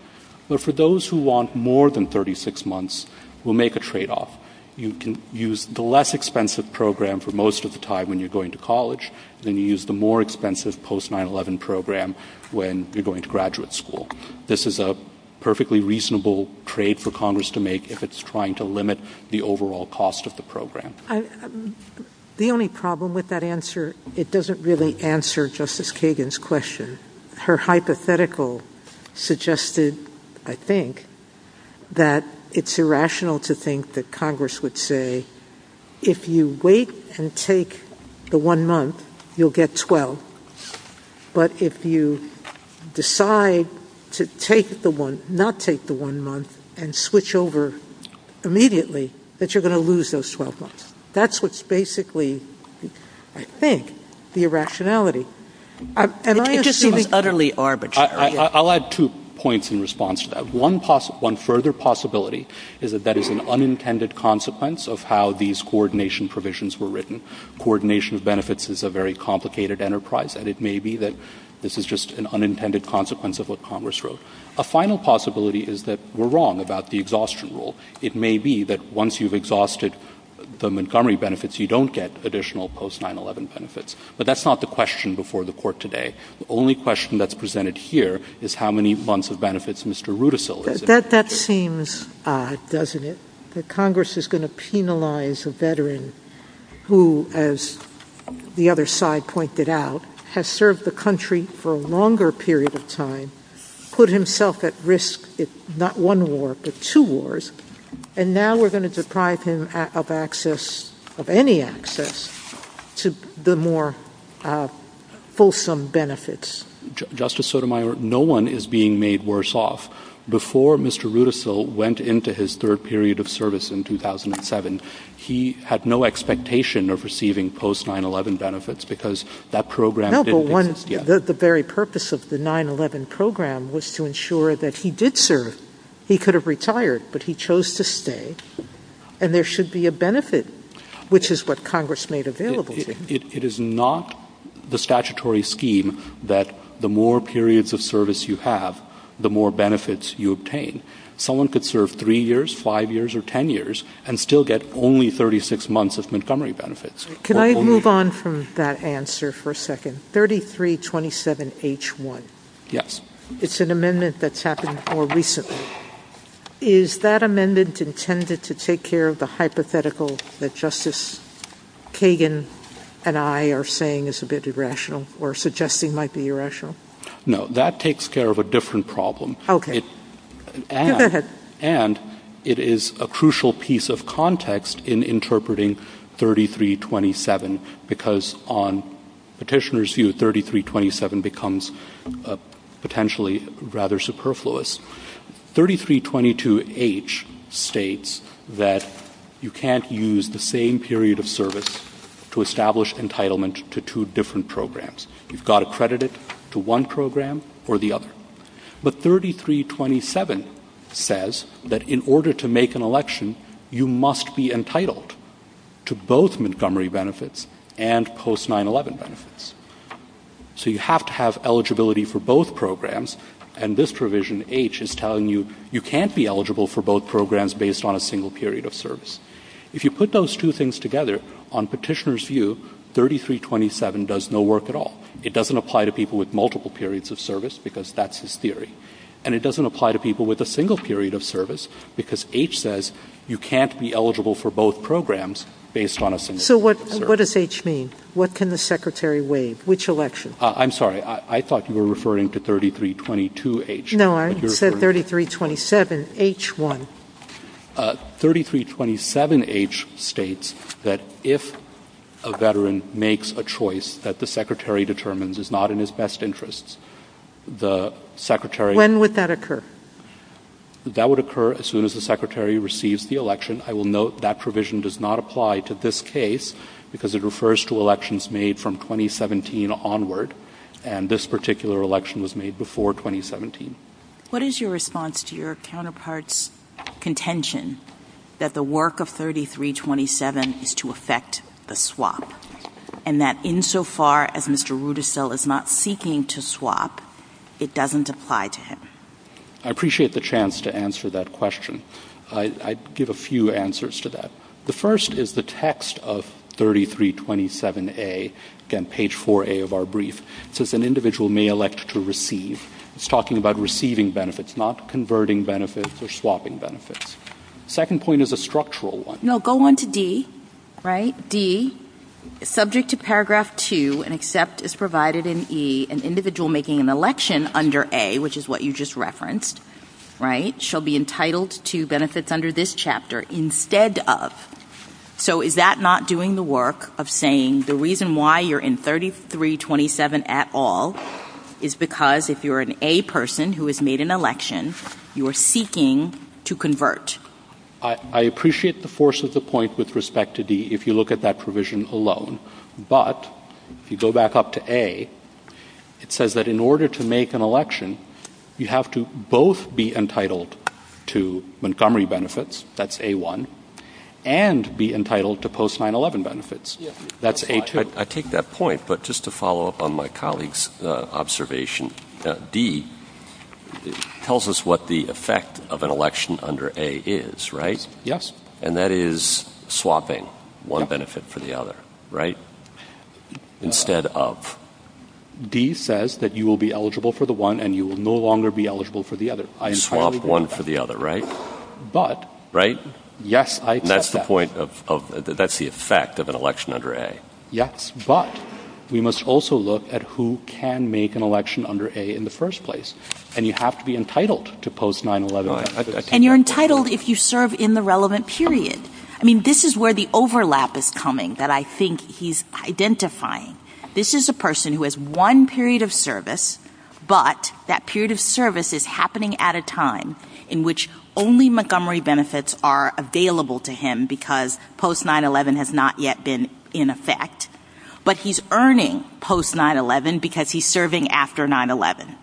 But for those who want more than 36 months, we'll make a trade-off. You can use the less expensive program for most of the time when you're going to college, then you use the more expensive post-9-11 program when you're going to graduate school. This is a perfectly reasonable trade for Congress to make if it's trying to limit the overall cost of the program. The only problem with that answer, it doesn't really answer Justice Kagan's question. Her hypothetical suggested, I think, that it's irrational to think that Congress would say, if you wait and take the one month, you'll get 12. But if you decide to not take the one month and switch over immediately, that you're going to lose those 12 months. That's what's basically, I think, the irrationality. And I just think it's utterly arbitrary. I'll add two points in response to that. One further possibility is that that is an unintended consequence of how these coordination provisions were written. Coordination of benefits is a very complicated enterprise, and it may be that this is just an unintended consequence of what Congress wrote. A final possibility is that we're wrong about the exhaustion rule. It may be that once you've exhausted the Montgomery benefits, you don't get additional post-9-11 benefits. But that's not the question before the Court today. The only question that's presented here is how many months of benefits Mr. Rudisill has. That seems odd, doesn't it, that Congress is going to penalize a veteran who, as the other side pointed out, has served the country for a longer period of time, put himself at risk in not one war but two wars, and now we're going to deprive him of access, of any access, to the more fulsome benefits? Justice Sotomayor, no one is being made worse off. Before Mr. Rudisill went into his third period of service in 2007, he had no expectation of receiving post-9-11 benefits because that program didn't exist yet. No, but the very purpose of the 9-11 program was to ensure that he did serve. He could have retired, but he chose to stay, and there should be a benefit, which is what Congress made available to him. It is not the statutory scheme that the more periods of service you have, the more benefits you obtain. Someone could serve three years, five years, or ten years and still get only 36 months of Montgomery benefits. Can I move on from that answer for a second? 3327H1. Yes. It's an amendment that's happened more recently. Is that amendment intended to take care of the hypothetical that Justice Kagan and I are saying is a bit irrational or suggesting might be irrational? No, that takes care of a different problem. Okay. Go ahead. And it is a crucial piece of context in interpreting 3327 because on petitioner's view, 3327 becomes potentially rather superfluous. 3322H states that you can't use the same period of service to establish entitlement to two different programs. You've got to credit it to one program or the other. But 3327 says that in order to make an election, you must be entitled to both Montgomery benefits and post-9-11 benefits. So you have to have eligibility for both programs, and this provision, H, is telling you you can't be eligible for both programs based on a single period of service. If you put those two things together, on petitioner's view, 3327 does no work at all. It doesn't apply to people with multiple periods of service because that's his theory. And it doesn't apply to people with a single period of service because H says you can't be eligible for both programs based on a single period of service. So what does H mean? What can the Secretary waive? Which election? I'm sorry. I thought you were referring to 3322H. No, I said 3327H1. 3327H states that if a veteran makes a choice that the Secretary determines is not in his best interests, the Secretary... When would that occur? That would occur as soon as the Secretary receives the election. I will note that provision does not apply to this case because it refers to elections made from 2017 onward, and this particular election was made before 2017. What is your response to your counterpart's contention that the work of 3327 is to affect the swap, and that insofar as Mr. Rudisill is not seeking to swap, it doesn't apply to him? I appreciate the chance to answer that question. I give a few answers to that. The first is the text of 3327A, again, page 4A of our brief. It says an individual may elect to receive. It's talking about receiving benefits, not converting benefits or swapping benefits. The second point is a structural one. No, go on to D, right? D, subject to paragraph 2, an accept is provided in E, an individual making an election under A, which is what you just referenced, right, shall be entitled to benefits under this chapter instead of... So is that not doing the work of saying the reason why you're in 3327 at all is because if you're an A person who has made an election, you're seeking to convert? I appreciate the force of the point with respect to D if you look at that provision alone. But if you go back up to A, it says that in order to make an election, you have to both be entitled to Montgomery benefits, that's A1, and be entitled to post-911 benefits. That's A2. I take that point, but just to follow up on my colleague's observation, D tells us what the effect of an election under A is, right? Yes. And that is swapping one benefit for the other, right? Instead of... D says that you will be eligible for the one and you will no longer be eligible for the other. Swap one for the other, right? But... Right? Yes, I take that. That's the effect of an election under A. Yes, but we must also look at who can make an election under A in the first place. And you have to be entitled to post-911 benefits. And you're entitled if you serve in the relevant period. I mean, this is where the overlap is coming that I think he's identifying. This is a person who has one period of service, but that period of service is happening at a time in which only Montgomery benefits are available to him because post-911 has not yet been in effect. But he's earning post-911 because he's serving after 9-11.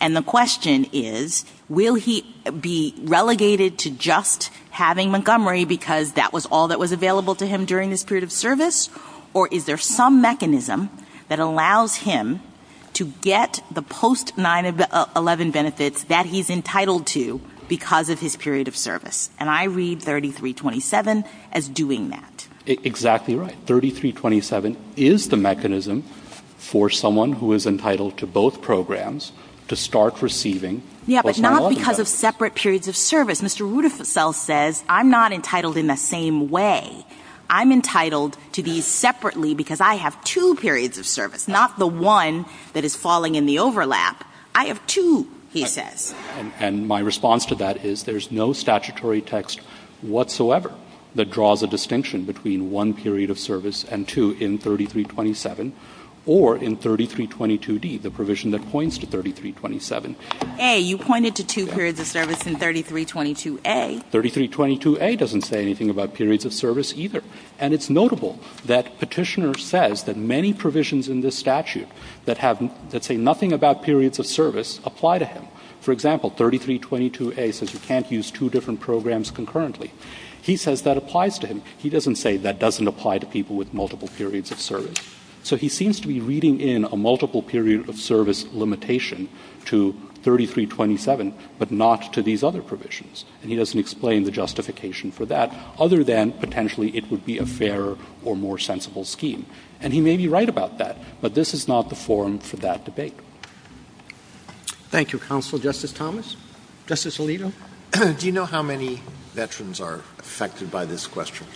And the question is, will he be relegated to just having Montgomery because that was all that was available to him during his period of service? Or is there some mechanism that allows him to get the post-911 benefits that he's entitled to because of his period of service? And I read 3327 as doing that. Exactly right. 3327 is the mechanism for someone who is entitled to both programs to start receiving post-911 benefits. Yes, but not because of separate periods of service. Mr. Rutherfeld says, I'm not entitled in the same way. I'm entitled to these separately because I have two periods of service, not the one that is falling in the overlap. I have two, he says. And my response to that is there's no statutory text whatsoever that draws a distinction between one period of service and two in 3327 or in 3322D, the provision that points to 3327. A, you pointed to two periods of service in 3322A. 3322A doesn't say anything about periods of service either. And it's notable that Petitioner says that many provisions in this statute that say nothing about periods of service apply to him. For example, 3322A says you can't use two different programs concurrently. He says that applies to him. He doesn't say that doesn't apply to people with multiple periods of service. So he seems to be reading in a multiple period of service limitation to 3327, but not to these other provisions. And he doesn't explain the justification for that other than potentially it would be a fairer or more sensible scheme. And he may be right about that, but this is not the forum for that debate. Thank you, Counsel. Justice Thomas? Justice Alito? Do you know how many veterans are affected by this question?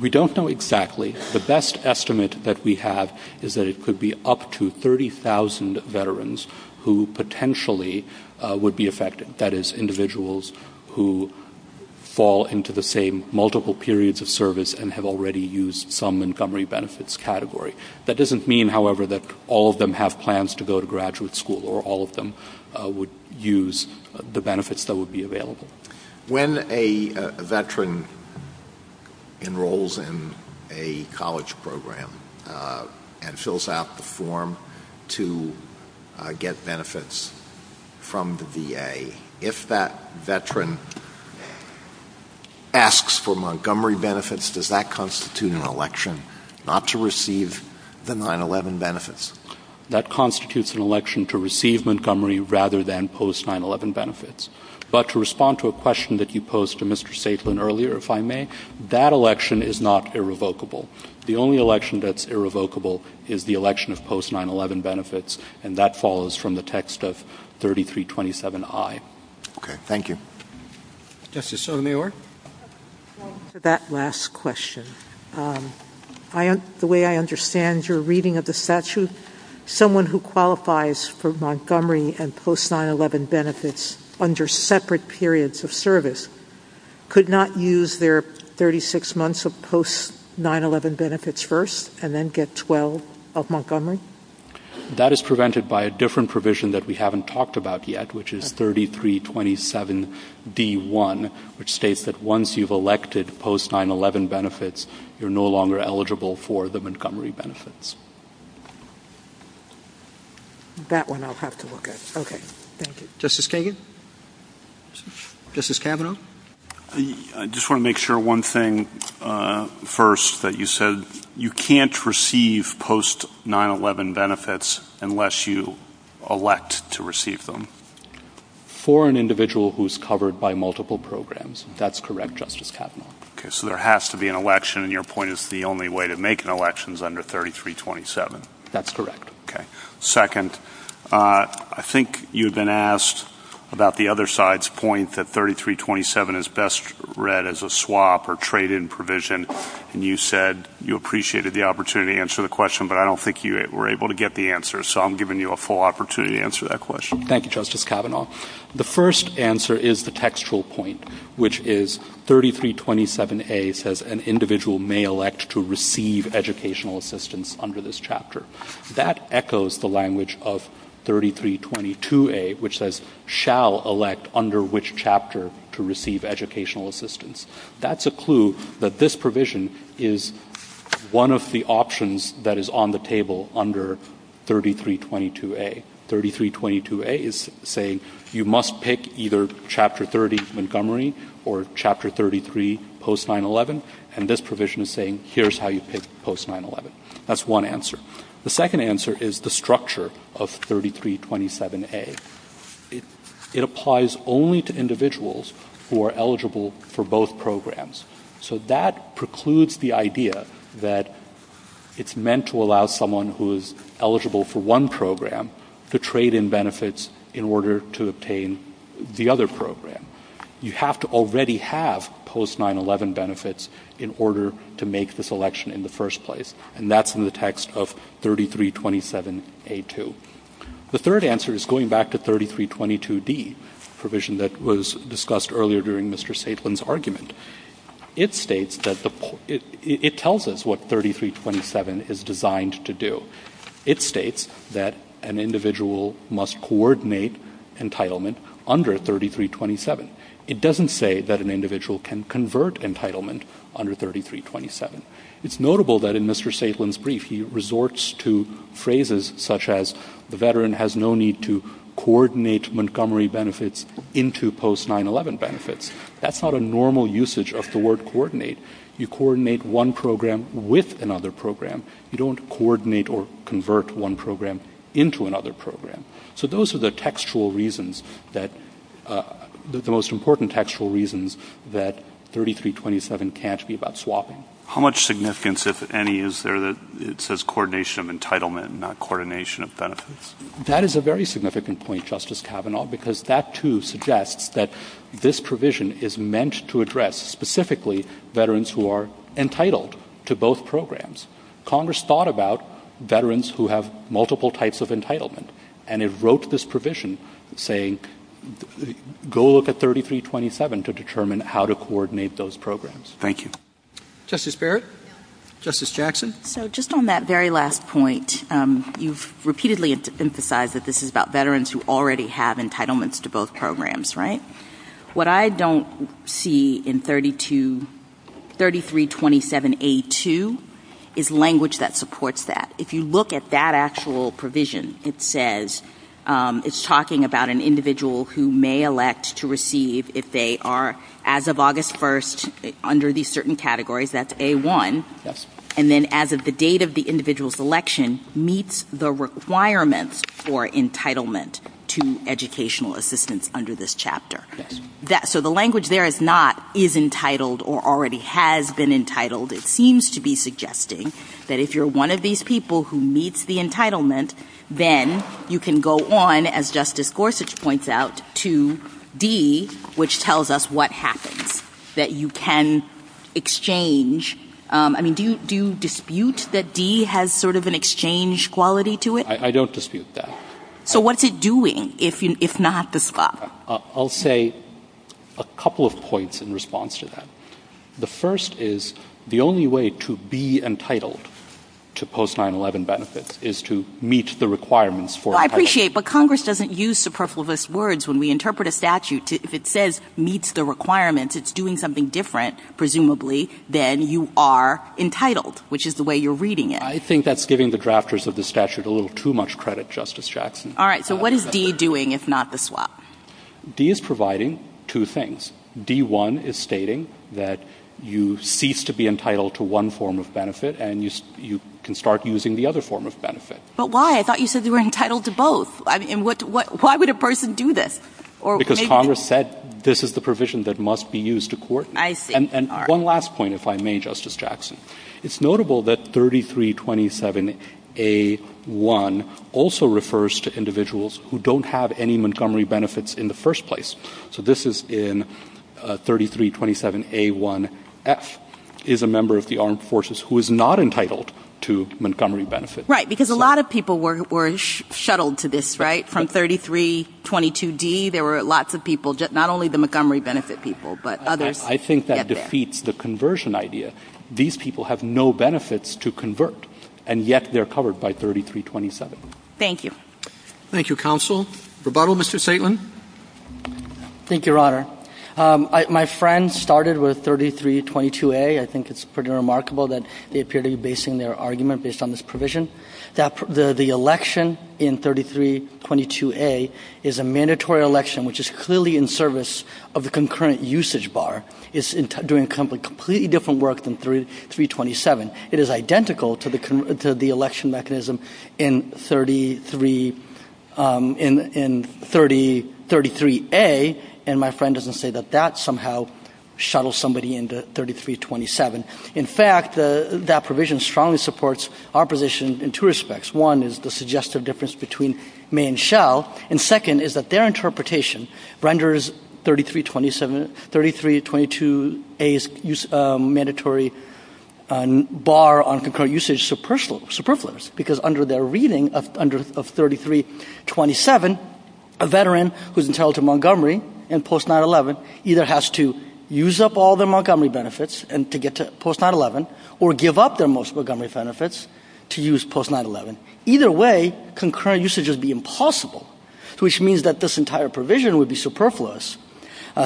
We don't know exactly. The best estimate that we have is that it could be up to 30,000 veterans who potentially would be affected, that is individuals who fall into the same multiple periods of service and have already used some Montgomery benefits category. That doesn't mean, however, that all of them have plans to go to graduate school or all of them would use the benefits that would be available. When a veteran enrolls in a college program and fills out the form to get benefits from the VA, if that veteran asks for Montgomery benefits, does that constitute an election not to receive the 9-11 benefits? That constitutes an election to receive Montgomery rather than post-9-11 benefits. But to respond to a question that you posed to Mr. Safelin earlier, if I may, that election is not irrevocable. The only election that's irrevocable is the election of post-9-11 benefits, and that follows from the text of 3327I. Okay, thank you. Justice Sotomayor? To that last question, the way I understand your reading of the statute, someone who qualifies for Montgomery and post-9-11 benefits under separate periods of service could not use their 36 months of post-9-11 benefits first and then get 12 of Montgomery? That is prevented by a different provision that we haven't talked about yet, which is 3327D1, which states that once you've elected post-9-11 benefits, you're no longer eligible for the Montgomery benefits. That one I'll have to look at. Okay, thank you. Justice Kagan? Justice Kavanaugh? I just want to make sure one thing first, that you said you can't receive post-9-11 benefits unless you elect to receive them. For an individual who's covered by multiple programs, that's correct, Justice Kavanaugh. Okay, so there has to be an election, and your point is the only way to make an election is under 3327. That's correct. Okay. Second, I think you've been asked about the other side's point that 3327 is best read as a swap or trade-in provision, and you said you appreciated the opportunity to answer the question, but I don't think you were able to get the answer, so I'm giving you a full opportunity to answer that question. Thank you, Justice Kavanaugh. The first answer is the textual point, which is 3327A says, an individual may elect to receive educational assistance under this chapter. That echoes the language of 3322A, which says, shall elect under which chapter to receive educational assistance. That's a clue that this provision is one of the options that is on the table under 3322A. 3322A is saying you must pick either Chapter 30, Montgomery, or Chapter 33, post-9-11, and this provision is saying here's how you pick post-9-11. That's one answer. The second answer is the structure of 3327A. It applies only to individuals who are eligible for both programs, so that precludes the idea that it's meant to allow someone who is eligible for one program to trade in benefits in order to obtain the other program. You have to already have post-9-11 benefits in order to make this election in the first place, and that's in the text of 3327A-2. The third answer is going back to 3322D, a provision that was discussed earlier during Mr. Safelin's argument. It tells us what 3327 is designed to do. It states that an individual must coordinate entitlement under 3327. It doesn't say that an individual can convert entitlement under 3327. It's notable that in Mr. Safelin's brief, he resorts to phrases such as the veteran has no need to coordinate Montgomery benefits into post-9-11 benefits. That's not a normal usage of the word coordinate. You coordinate one program with another program. You don't coordinate or convert one program into another program. So those are the textual reasons, the most important textual reasons, that 3327 can't be about swapping. How much significance, if any, is there that it says coordination of entitlement and not coordination of benefits? That is a very significant point, Justice Kavanaugh, because that, too, suggests that this provision is meant to address specifically veterans who are entitled to both programs. Congress thought about veterans who have multiple types of entitlement, and it wrote this provision saying go look at 3327 to determine how to coordinate those programs. Thank you. Justice Barrett? Justice Jackson? So just on that very last point, you've repeatedly emphasized that this is about veterans who already have entitlements to both programs, right? What I don't see in 3327A2 is language that supports that. If you look at that actual provision, it says it's talking about an individual who may elect to receive if they are, as of August 1st, under these certain categories, that's A1, and then as of the date of the individual's election, meets the requirements for entitlement to educational assistance under this chapter. So the language there is not is entitled or already has been entitled. It seems to be suggesting that if you're one of these people who meets the entitlement, then you can go on, as Justice Gorsuch points out, to D, which tells us what happens, that you can exchange. I mean, do you dispute that D has sort of an exchange quality to it? I don't dispute that. So what's it doing if not the spot? I'll say a couple of points in response to that. The first is the only way to be entitled to post-911 benefits is to meet the requirements for entitlement. I appreciate, but Congress doesn't use superfluous words when we interpret a statute. If it says meets the requirements, it's doing something different, presumably, than you are entitled, which is the way you're reading it. I think that's giving the drafters of the statute a little too much credit, Justice Jackson. All right, so what is D doing if not the swap? D is providing two things. D1 is stating that you cease to be entitled to one form of benefit and you can start using the other form of benefit. But why? I thought you said you were entitled to both. Why would a person do this? Because Congress said this is the provision that must be used to court. I see. And one last point, if I may, Justice Jackson. It's notable that 3327A1 also refers to individuals who don't have any Montgomery benefits in the first place. So this is in 3327A1F, is a member of the armed forces who is not entitled to Montgomery benefits. Right, because a lot of people were shuttled to this, right, from 3322D. There were lots of people, not only the Montgomery benefit people, but others. I think that defeats the conversion idea. These people have no benefits to convert, and yet they're covered by 3327. Thank you. Thank you, Counsel. Rebuttal, Mr. Saitlin? Thank you, Your Honor. My friend started with 3322A. I think it's pretty remarkable that they appear to be basing their argument based on this provision. The election in 3322A is a mandatory election, which is clearly in service of the concurrent usage bar. It's doing completely different work than 327. It is identical to the election mechanism in 33A, and my friend doesn't say that that somehow shuttles somebody into 3327. In fact, that provision strongly supports our position in two respects. One is the suggestive difference between may and shall, and second is that their interpretation renders 3322A's mandatory bar on concurrent usage superfluous, because under their reading of 3327, a veteran who's entitled to Montgomery and post-9-11 either has to use up all their Montgomery benefits to get to post-9-11 or give up their Montgomery benefits to use post-9-11. Either way, concurrent usage would be impossible, which means that this entire provision would be superfluous.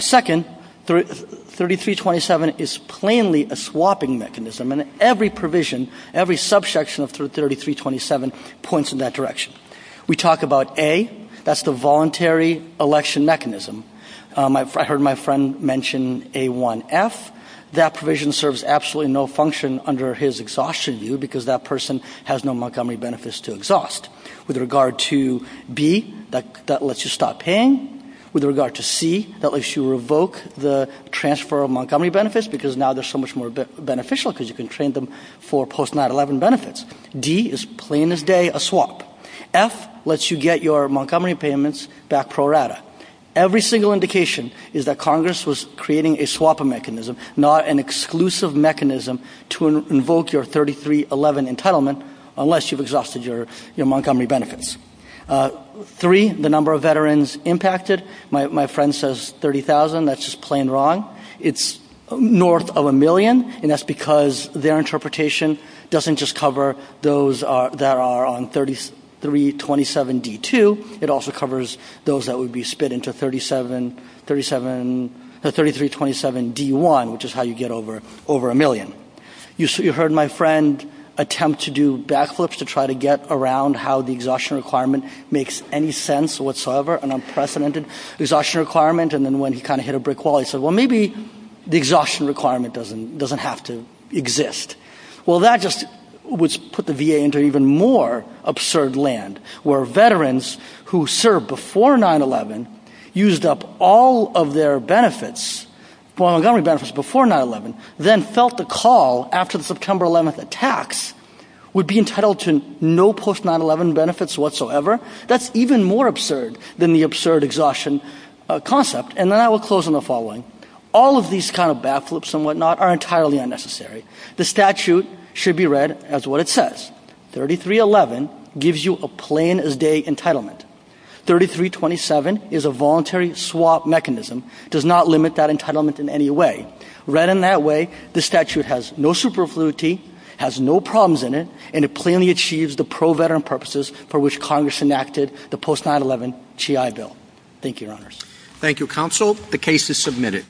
Second, 3327 is plainly a swapping mechanism, and every provision, every subsection of 3327 points in that direction. We talk about A. That's the voluntary election mechanism. I heard my friend mention A1F. That provision serves absolutely no function under his exhaustion view, because that person has no Montgomery benefits to exhaust. With regard to B, that lets you stop paying. With regard to C, that lets you revoke the transfer of Montgomery benefits, because now they're so much more beneficial because you can train them for post-9-11 benefits. D is, plain as day, a swap. F lets you get your Montgomery payments back pro rata. Every single indication is that Congress was creating a swapping mechanism, not an exclusive mechanism to invoke your 3311 entitlement unless you've exhausted your Montgomery benefits. Three, the number of veterans impacted. My friend says 30,000. That's just plain wrong. It's north of a million, and that's because their interpretation doesn't just cover those that are on 3327D2. It also covers those that would be split into 3327D1, which is how you get over a million. You heard my friend attempt to do backflips to try to get around how the exhaustion requirement makes any sense whatsoever, an unprecedented exhaustion requirement, and then when he kind of hit a brick wall, he said, well, maybe the exhaustion requirement doesn't have to exist. Well, that just would put the VA into even more absurd land, where veterans who served before 9-11 used up all of their benefits, Montgomery benefits before 9-11, then felt the call after the September 11th attacks would be entitled to no post-9-11 benefits whatsoever. That's even more absurd than the absurd exhaustion concept, and I will close on the following. All of these kind of backflips and whatnot are entirely unnecessary. The statute should be read as what it says. 3311 gives you a plain-as-day entitlement. 3327 is a voluntary swap mechanism. It does not limit that entitlement in any way. Read in that way, the statute has no superfluity, has no problems in it, and it plainly achieves the pro-veteran purposes for which Congress enacted the post-9-11 GI Bill. Thank you, Your Honors. Thank you, Counsel. The case is submitted.